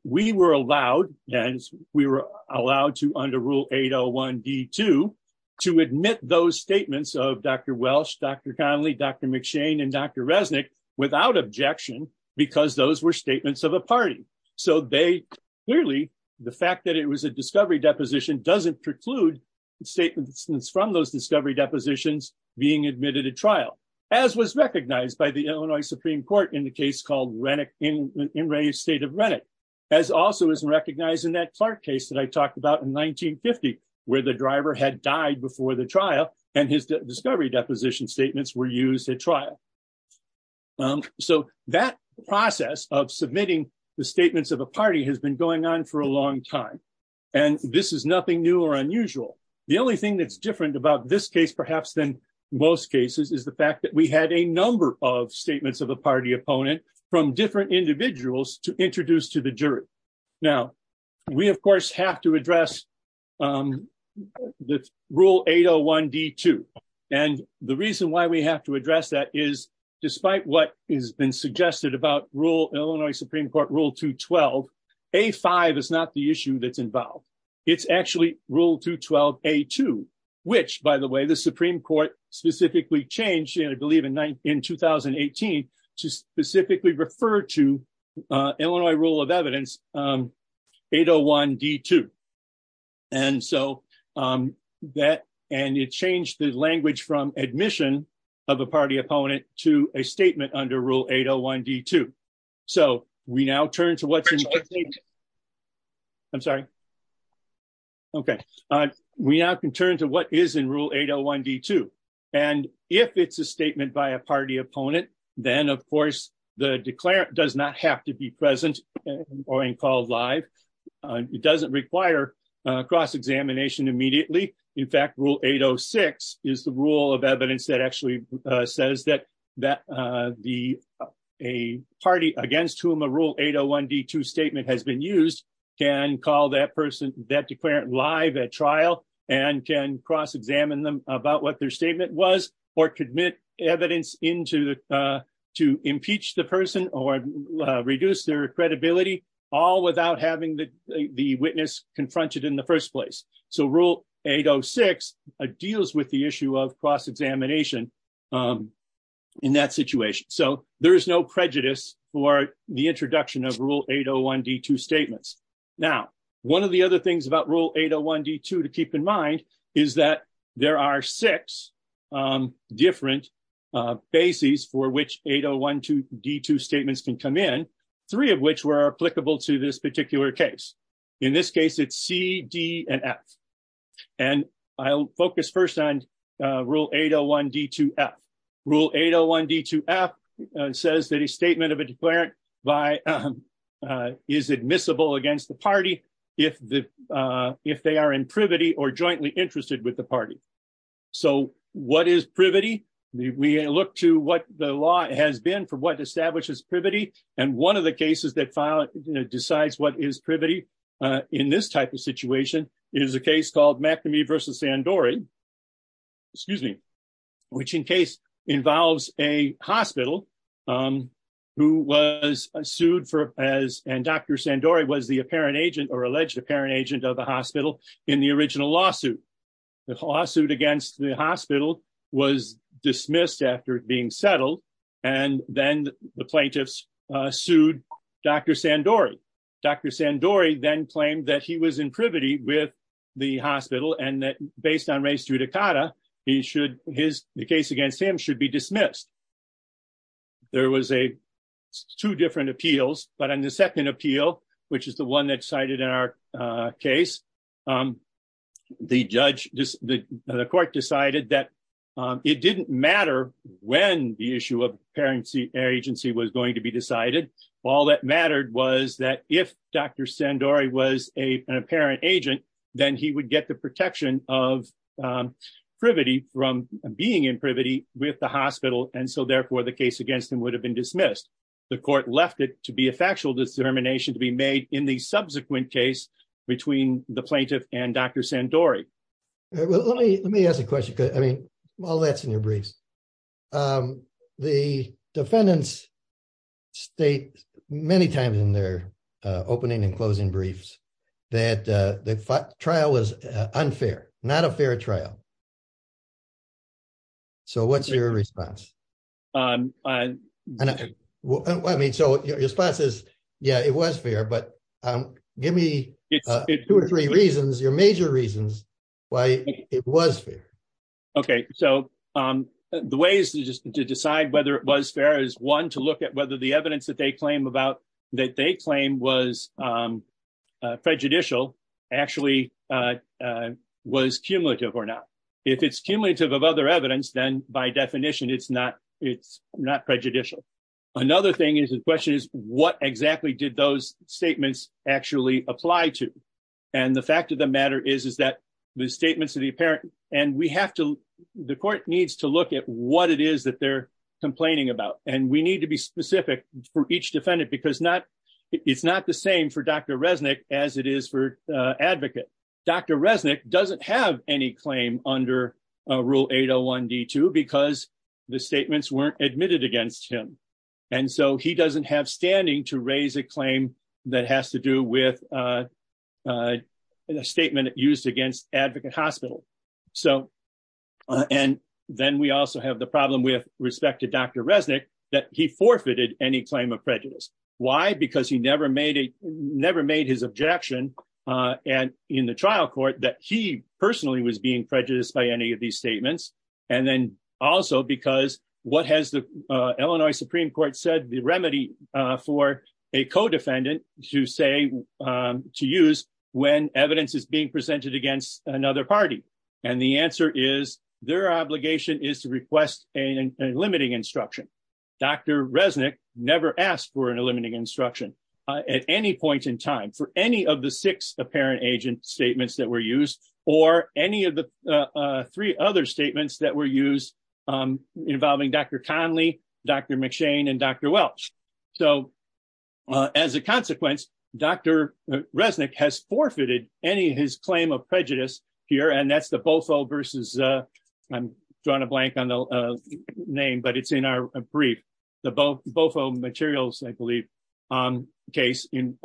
We were allowed, and we were allowed to under Rule 801 D2 to admit those statements of Dr. Welch, Dr. Conley, Dr. McShane, and Dr. Resnick without objection because those were statements of a party. So they clearly, the fact that it was a discovery deposition doesn't preclude statements from those discovery depositions being admitted at trial, as was recognized by the Illinois Supreme Court in in Ray's state of Renwick, as also is recognized in that Clark case that I talked about in 1950, where the driver had died before the trial, and his discovery deposition statements were used at trial. So that process of submitting the statements of a party has been going on for a long time, and this is nothing new or unusual. The only thing that's different about this case perhaps than most cases is the fact that we had a number of statements of a party opponent from different individuals to introduce to the jury. Now we of course have to address the Rule 801 D2, and the reason why we have to address that is despite what has been suggested about Illinois Supreme Court Rule 212, A5 is not the issue that's involved. It's actually Rule 212 A2, which by the way the Supreme Court specifically changed, I believe in 2018, to specifically refer to Illinois Rule of Evidence 801 D2. And so that, and it changed the language from admission of a party opponent to a statement under Rule 801 D2. So we now turn to what's in... I'm sorry. Okay. We now can turn to what is in Rule 801 D2, and if it's a statement by a party opponent, then of course the declarant does not have to be present or being called live. It doesn't require cross-examination immediately. In fact, Rule 806 is the Rule of Evidence that says that a party against whom a Rule 801 D2 statement has been used can call that person, that declarant, live at trial and can cross-examine them about what their statement was, or commit evidence to impeach the person or reduce their credibility, all without having the witness confronted in the first place. So Rule 806 deals with the issue of cross-examination in that situation. So there is no prejudice for the introduction of Rule 801 D2 statements. Now, one of the other things about Rule 801 D2 to keep in mind is that there are six different bases for which 801 D2 statements can come in, three of which were applicable to this case. In this case, it's C, D, and F. I'll focus first on Rule 801 D2 F. Rule 801 D2 F says that a statement of a declarant is admissible against the party if they are in privity or jointly interested with the party. So what is privity? We look to what the law has been for what is privity. In this type of situation, it is a case called McNamee v. Sandori, which in case involves a hospital who was sued for, and Dr. Sandori was the apparent agent or alleged apparent agent of the hospital in the original lawsuit. The lawsuit against the hospital was dismissed after it being settled, and then the plaintiffs sued Dr. Sandori. Dr. Sandori then claimed that he was in privity with the hospital and that based on res judicata, the case against him should be dismissed. There was two different appeals, but on the second appeal, which is the one that's cited in our case, the court decided that it didn't matter when the issue of parent agency was going to be decided. All that mattered was that if Dr. Sandori was an apparent agent, then he would get the protection of privity from being in privity with the hospital, and so therefore the case against him would have been dismissed. The court left it to be a factual determination to be made in the subsequent case between the plaintiff and Dr. Sandori. Well, let me ask a question because, I mean, all that's in your briefs. The defendants state many times in their opening and closing briefs that the trial was unfair, not a fair trial. So, what's your response? I mean, so your response is, yeah, it was fair, but give me two or three reasons, your major reasons, why it was fair. Okay, so the ways to decide whether it was fair is, one, to look at whether the evidence that they claim was prejudicial actually was cumulative or not. If it's cumulative of other evidence, then by definition it's not prejudicial. Another thing is, the question is, what exactly did those statements actually apply to? And the fact of the matter is, is that the statements of the apparent, and we have to, the court needs to look at what it is that they're complaining about, and we need to be specific for each defendant because it's not the same for Dr. Resnick as it is for Advocate. Dr. Resnick doesn't have any claim under Rule 801 D2 because the statements weren't admitted against him, and so he doesn't have standing to raise a claim that has to do with a statement used against Advocate Hospital. So, and then we also have the problem with respect to Dr. Resnick that he forfeited any claim of prejudice. Why? Because he never made his objection in the trial court that he personally was being prejudiced by any of these statements, and then also because what has the Illinois Supreme Court said the remedy for a co-defendant to say, to use when evidence is being presented against another party? And the answer is, their obligation is to request a never asked for an eliminating instruction at any point in time for any of the six apparent agent statements that were used or any of the three other statements that were used involving Dr. Conley, Dr. McShane, and Dr. Welch. So, as a consequence, Dr. Resnick has forfeited any of his claim of prejudice here, and that's the Bofo versus, I'm drawing a blank on the name, but it's in our brief, the Bofo materials, I believe, case in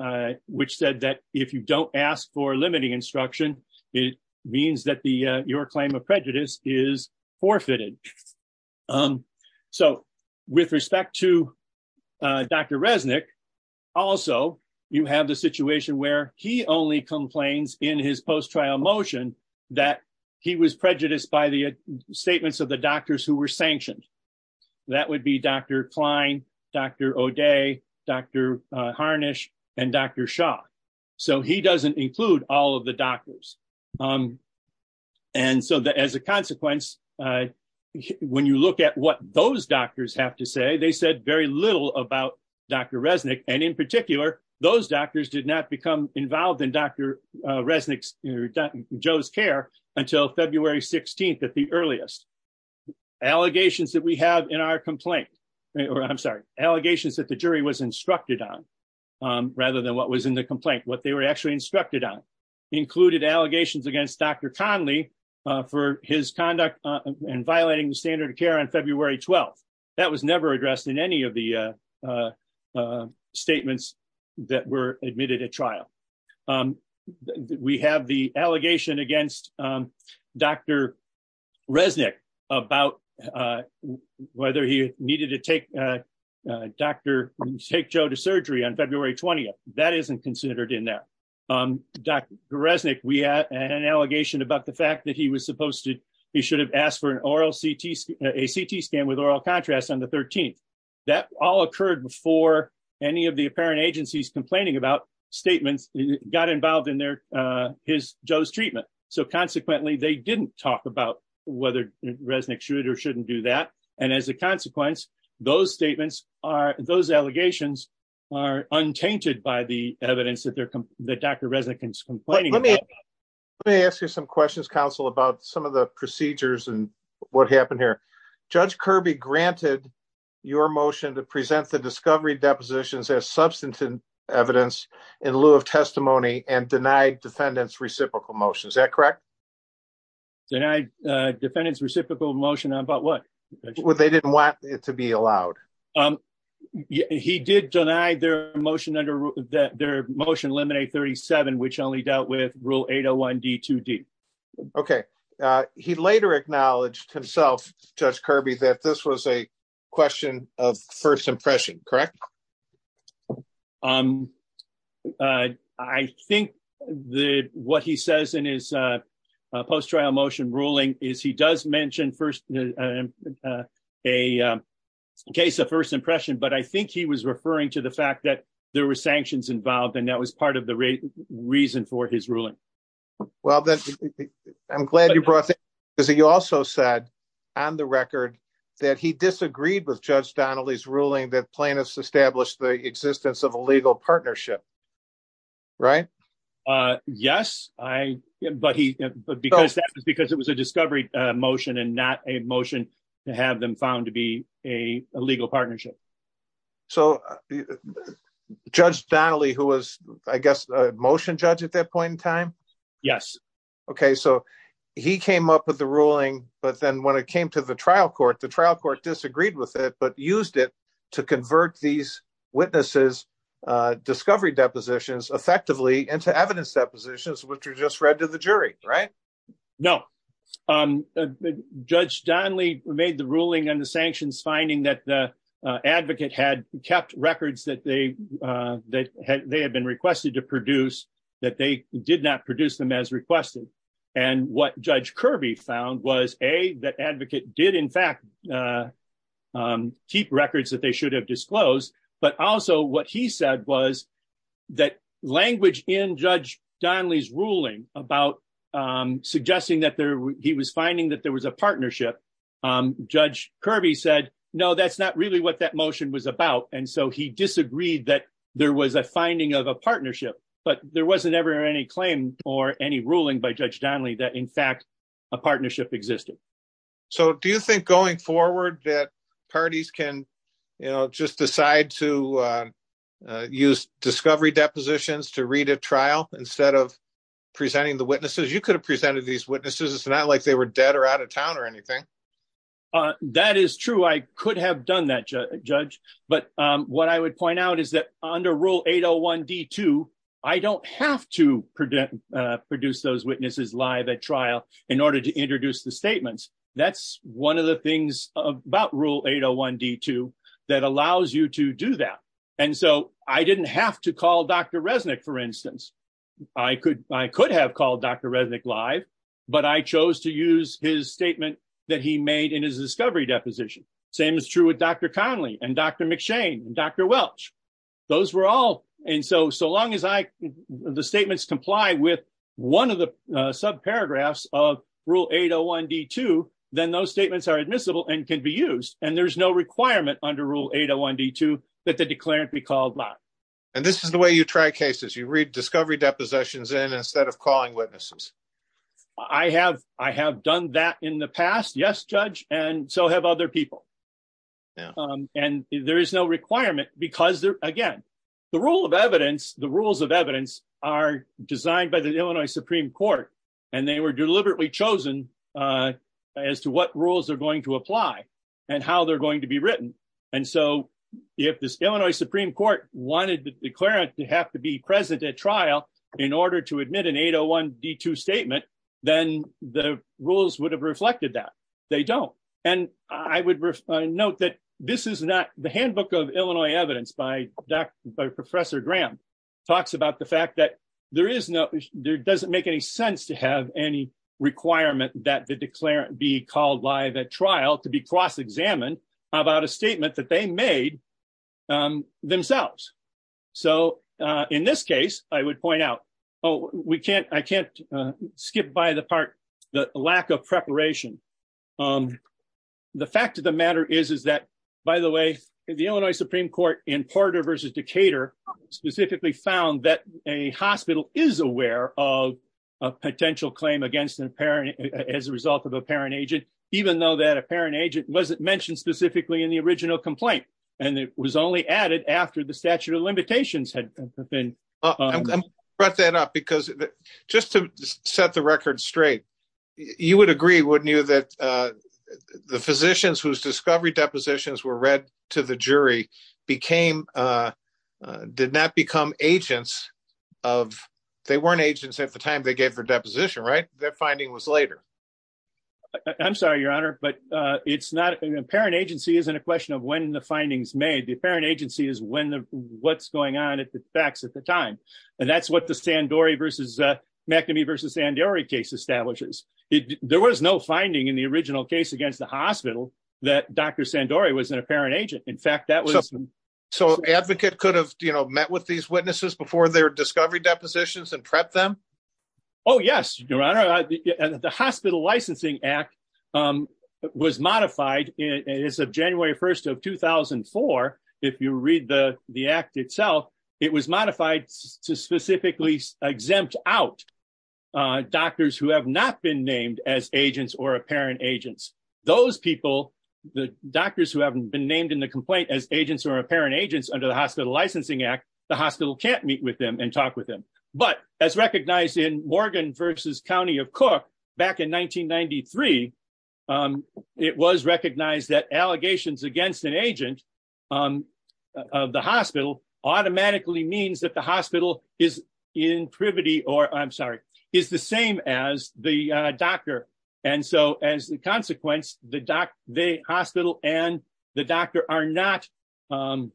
which said that if you don't ask for limiting instruction, it means that your claim of prejudice is forfeited. So, with respect to Dr. Resnick, also you have the situation where he only complains in his post-trial motion that he was prejudiced by the statements of the doctors who were sanctioned. That would be Dr. Klein, Dr. O'Day, Dr. Harnish, and Dr. Shaw. So, he doesn't include all of the doctors. And so, as a consequence, when you look at what those doctors have to say, they said very little about Dr. Resnick, and in particular, those doctors did not become involved in Dr. Joe's care until February 16th at the earliest. Allegations that we have in our complaint, or I'm sorry, allegations that the jury was instructed on, rather than what was in the complaint, what they were actually instructed on, included allegations against Dr. Conley for his conduct and violating the standard of care on February 12th. That was never addressed in any of the statements that were admitted at trial. We have the allegation against Dr. Resnick about whether he needed to take Dr. Joe to surgery on February 20th. That isn't considered in there. Dr. Resnick, we had an allegation about the fact that he should have asked for a CT scan with oral contrast on the 13th. That all occurred before any of the apparent agencies complaining about statements got involved in his, Joe's treatment. So, consequently, they didn't talk about whether Resnick should or shouldn't do that. And as a consequence, those statements are, those allegations are untainted by the evidence that Dr. Resnick is complaining about. Let me ask you some questions, counsel, about some of the procedures and what happened here. Judge Kirby granted your motion to present the discovery depositions as substantive evidence in lieu of testimony and denied defendants reciprocal motion. Is that correct? Denied defendants reciprocal motion about what? They didn't want it to be allowed. Um, he did deny their motion under that their motion eliminate 37, which only dealt with rule 801 D2D. Okay. Uh, he later acknowledged himself, Judge Kirby, that this was a question of first impression, correct? Um, uh, I think the, what he says in his, uh, uh, post trial motion ruling is he does mention first, uh, uh, a, um, case of first impression, but I think he was referring to the fact that there were sanctions involved and that was part of the reason for his ruling. Well, then I'm glad you brought that because he also said on the record that he disagreed with Judge Donnelly's ruling that plaintiffs established the existence of a legal partnership. Right? Uh, yes. I, but he, but because that was because it was a discovery motion and not a motion to have them found to be a legal partnership. So Judge Donnelly, who was, I guess, a motion judge at that point in time. Yes. Okay. So he came up with the ruling, but then when it came to the trial court, the trial court disagreed with it, but used it to convert these witnesses, uh, discovery depositions effectively into evidence depositions, which are just read to the jury, right? No. Um, uh, Judge Donnelly made the ruling and the sanctions finding that the, uh, advocate had kept records that they, uh, that had, they had been requested to produce that they did not produce them as requested. And what judge Kirby found was a, that advocate did in fact, uh, um, keep records that they should have disclosed. But also what he said was that language in Judge Donnelly's ruling about, um, suggesting that there, he was finding that there was a partnership. Um, Judge Kirby said, no, that's not really what that motion was about. And so he disagreed that there was a finding of a partnership, but there wasn't ever any claim or any ruling by Judge So do you think going forward that parties can, you know, just decide to, uh, uh, use discovery depositions to read a trial instead of presenting the witnesses, you could have presented these witnesses. It's not like they were dead or out of town or anything. Uh, that is true. I could have done that judge, but, um, what I would point out is that under rule 801 D two, I don't have to predict, uh, produce those witnesses live at trial in order to introduce the statements. That's one of the things about rule 801 D two that allows you to do that. And so I didn't have to call Dr. Resnick, for instance, I could, I could have called Dr. Resnick live, but I chose to use his statement that he made in his discovery deposition. Same is true with Dr. Conley and Dr. McShane and Dr. Welch. Those were all. And so, so long as I, the statements comply with one of the sub paragraphs of rule 801 D two, then those statements are admissible and can be used. And there's no requirement under rule 801 D two that the declarant be called. And this is the way you try cases. You read discovery depositions in instead of calling witnesses. I have, I have done that in the past. Yes, judge. And so have other people. Um, and there is no requirement because they're again, the rule of evidence, the rules of evidence are designed by the Illinois Supreme court and they were deliberately chosen, uh, as to what rules are going to apply and how they're going to be written. And so if this Illinois Supreme court wanted the declarant to have to be present at trial in order to admit an 801 D two statement, then the rules would have reflected that they don't. And I would note that this is not the handbook of Illinois evidence by professor Graham talks about the fact that there is no, there doesn't make any sense to have any requirement that the declarant be called live at trial to be cross-examined about a statement that they made themselves. So, uh, in this case, I would point out, Oh, we can't, I can't skip by the part, the lack of preparation. Um, the fact of the matter is, is that by the way, the Illinois Supreme court in Porter versus Decatur specifically found that a hospital is aware of a potential claim against an apparent, as a result of a parent agent, even though that apparent agent wasn't mentioned specifically in the original complaint. And it was only added after the statute of limitations had been brought that up because just to set the record straight, you would agree, wouldn't you, that, uh, the physicians whose discovery depositions were read to the jury became, uh, uh, did not become agents of, they weren't agents at the time they gave for deposition, right? Their finding was later. I'm sorry, your honor, but, uh, it's not an apparent agency. Isn't a question of when the findings made the apparent agency is when the, what's going on at the facts at the time. And that's what the San Dory versus, uh, McNamee versus San Dory case establishes. It, there was no finding in the original case against the hospital that Dr. San Dory was an apparent agent. In fact, that was, so advocate could have, you know, met with these witnesses before their discovery depositions and prep them. Oh yes, your honor. The hospital licensing act, um, was modified as of January 1st of 2004. If you read the, the act itself, it was modified to specifically exempt out, uh, doctors who have not been named as agents or apparent agents. Those people, the doctors who haven't been named in the complaint as agents or apparent agents under the hospital licensing act, the hospital can't meet with them and talk with them. But as recognized in Morgan versus County of Cook back in 1993, um, it was recognized that allegations against an agent, um, of the hospital automatically means that the hospital is in privity or I'm sorry, is the same as the doctor. And so as the consequence, the doc, the hospital and the doctor are not, um,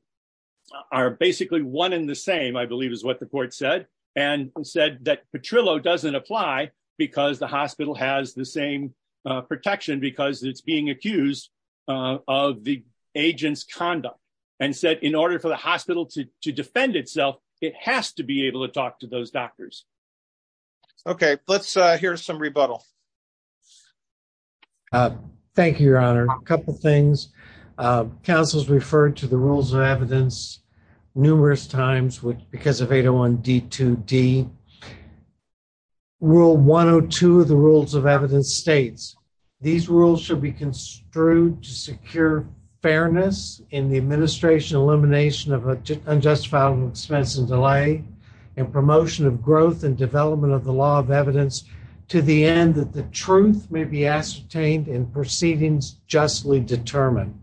are basically one in the same, I believe is what the court said and said that Petrillo doesn't apply because the hospital has the same protection because it's being accused, uh, of the agent's conduct and said in order for hospital to defend itself, it has to be able to talk to those doctors. Okay. Let's, uh, here's some rebuttal. Uh, thank you, your honor. A couple of things. Uh, counsel's referred to the rules of evidence numerous times, which because of 801 D two D rule one Oh two of the rules of evidence states these rules should be construed to secure fairness in the administration, elimination of unjustifiable expense and delay and promotion of growth and development of the law of evidence to the end that the truth may be ascertained in proceedings justly determined.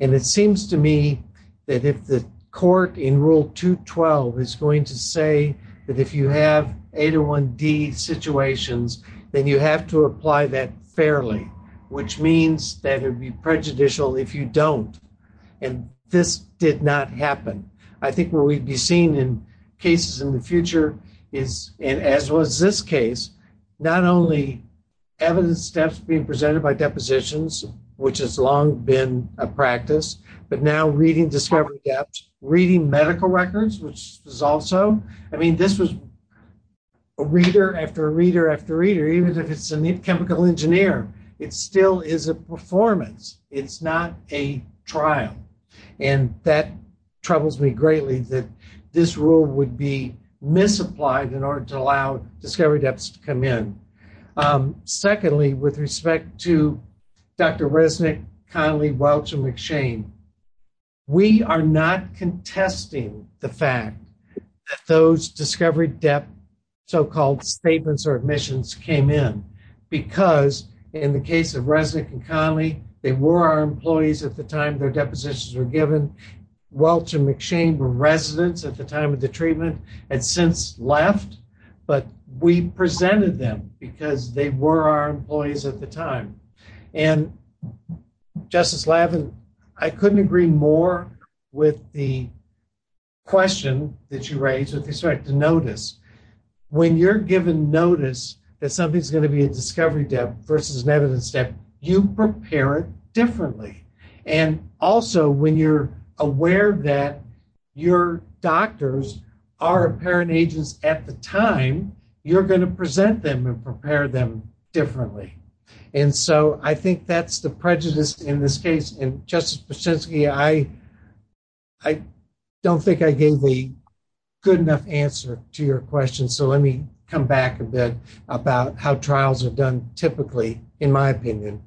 And it seems to me that if the court in rule two 12 is going to say that if you have 801 D situations, then you have to apply that fairly, which means that it would be prejudicial if you don't. And this did not happen. I think where we'd be seen in cases in the future is and as was this case, not only evidence steps being presented by depositions, which has long been a practice, but now reading discovery gaps, reading medical records, which is also, I mean, this was a reader after a reader after reader, even if it's a neat chemical engineer, it still is a performance. It's not a trial, and that troubles me greatly that this rule would be misapplied in order to allow discovery depths to come in. Um, secondly, with respect to Dr Resnick, Connelly, Welch and McShane, we are not contesting the fact that those discovery depth so called statements or admissions came in because in the case of Resnick and Connelly, they were our employees at the time their depositions were given. Welch and McShane were residents at the time of the treatment and since left, but we presented them because they were our employees at the time. And Justice Lavin, I couldn't agree more with the question that you raised with respect to notice. When you're given notice that something's going to be a discovery depth versus an evidence step, you prepare it differently. And also when you're aware that your doctors are apparent agents at the time, you're going to present them and prepare them differently. And so I think that's the prejudice in this case. And Justice Brzezinski, I don't think I gave the good enough answer to your question. So let me come back a bit about how trials are done typically, in my opinion.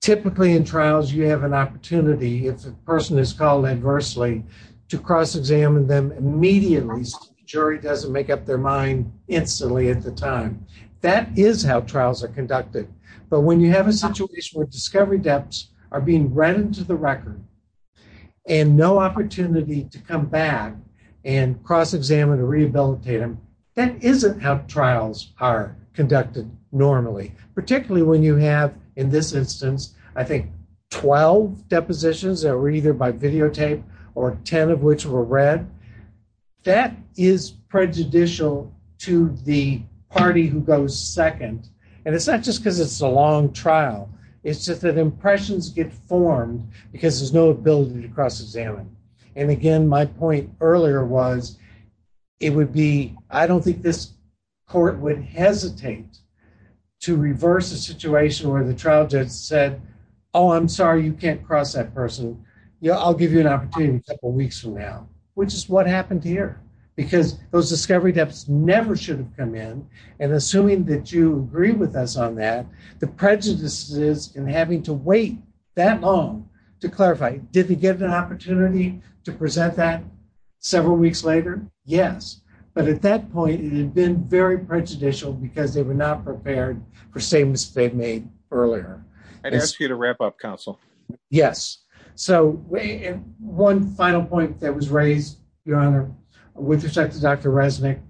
Typically in trials, you have an opportunity if a person is called adversely to cross examine them immediately, jury doesn't make up their mind instantly at the time. That is how trials are conducted. But when you have a situation where discovery depths are being read into the record and no opportunity to come back and cross examine or rehabilitate them, that isn't how trials are conducted normally. Particularly when you have in this instance, I think 12 depositions that either by videotape or 10 of which were read, that is prejudicial to the party who goes second. And it's not just because it's a long trial. It's just that impressions get formed because there's no ability to cross examine. And again, my point earlier was it would be, I don't think this court would hesitate to reverse a situation where the trial judge said, oh, I'm sorry, you can't cross that person. I'll give you an opportunity a couple of weeks from now, which is what happened here. Because those discovery depths never should have come in. And assuming that you agree with us on that, the prejudices and having to wait that long to clarify, did they get an opportunity to present that several weeks later? Yes. But at that point, it had been very prejudicial because they were not prepared for statements they'd made earlier. I'd ask you to wrap up, counsel. Yes. So one final point that was raised, Your Honor, with respect to Dr. Resnick,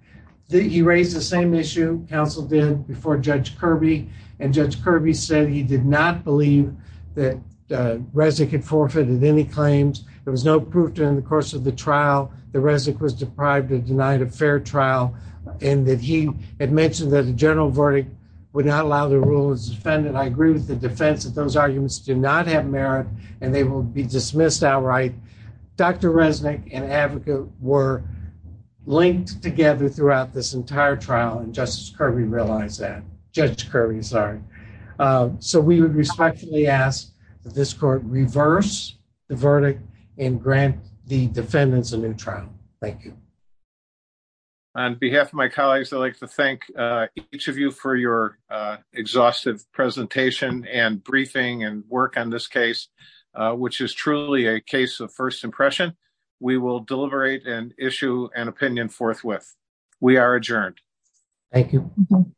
he raised the same issue counsel did before Judge Kirby. And Judge Kirby said he did not believe that Resnick had forfeited any claims. There was no proof during the course of the trial that Resnick was deprived or denied a fair trial. And that he had mentioned that the general verdict would not allow the rule as defendant. I agree with the defense that those arguments do not have merit and they will be dismissed outright. Dr. Resnick and Avika were linked together throughout this entire trial. And Justice Kirby realized that. Judge Kirby, sorry. So we would respectfully ask that this court reverse the verdict and grant the defendants a new trial. Thank you. On behalf of my colleagues, I'd like to thank each of you for your exhaustive presentation and briefing and work on this case, which is truly a case of first impression. We will deliberate and issue an opinion forthwith. We are adjourned. Thank you.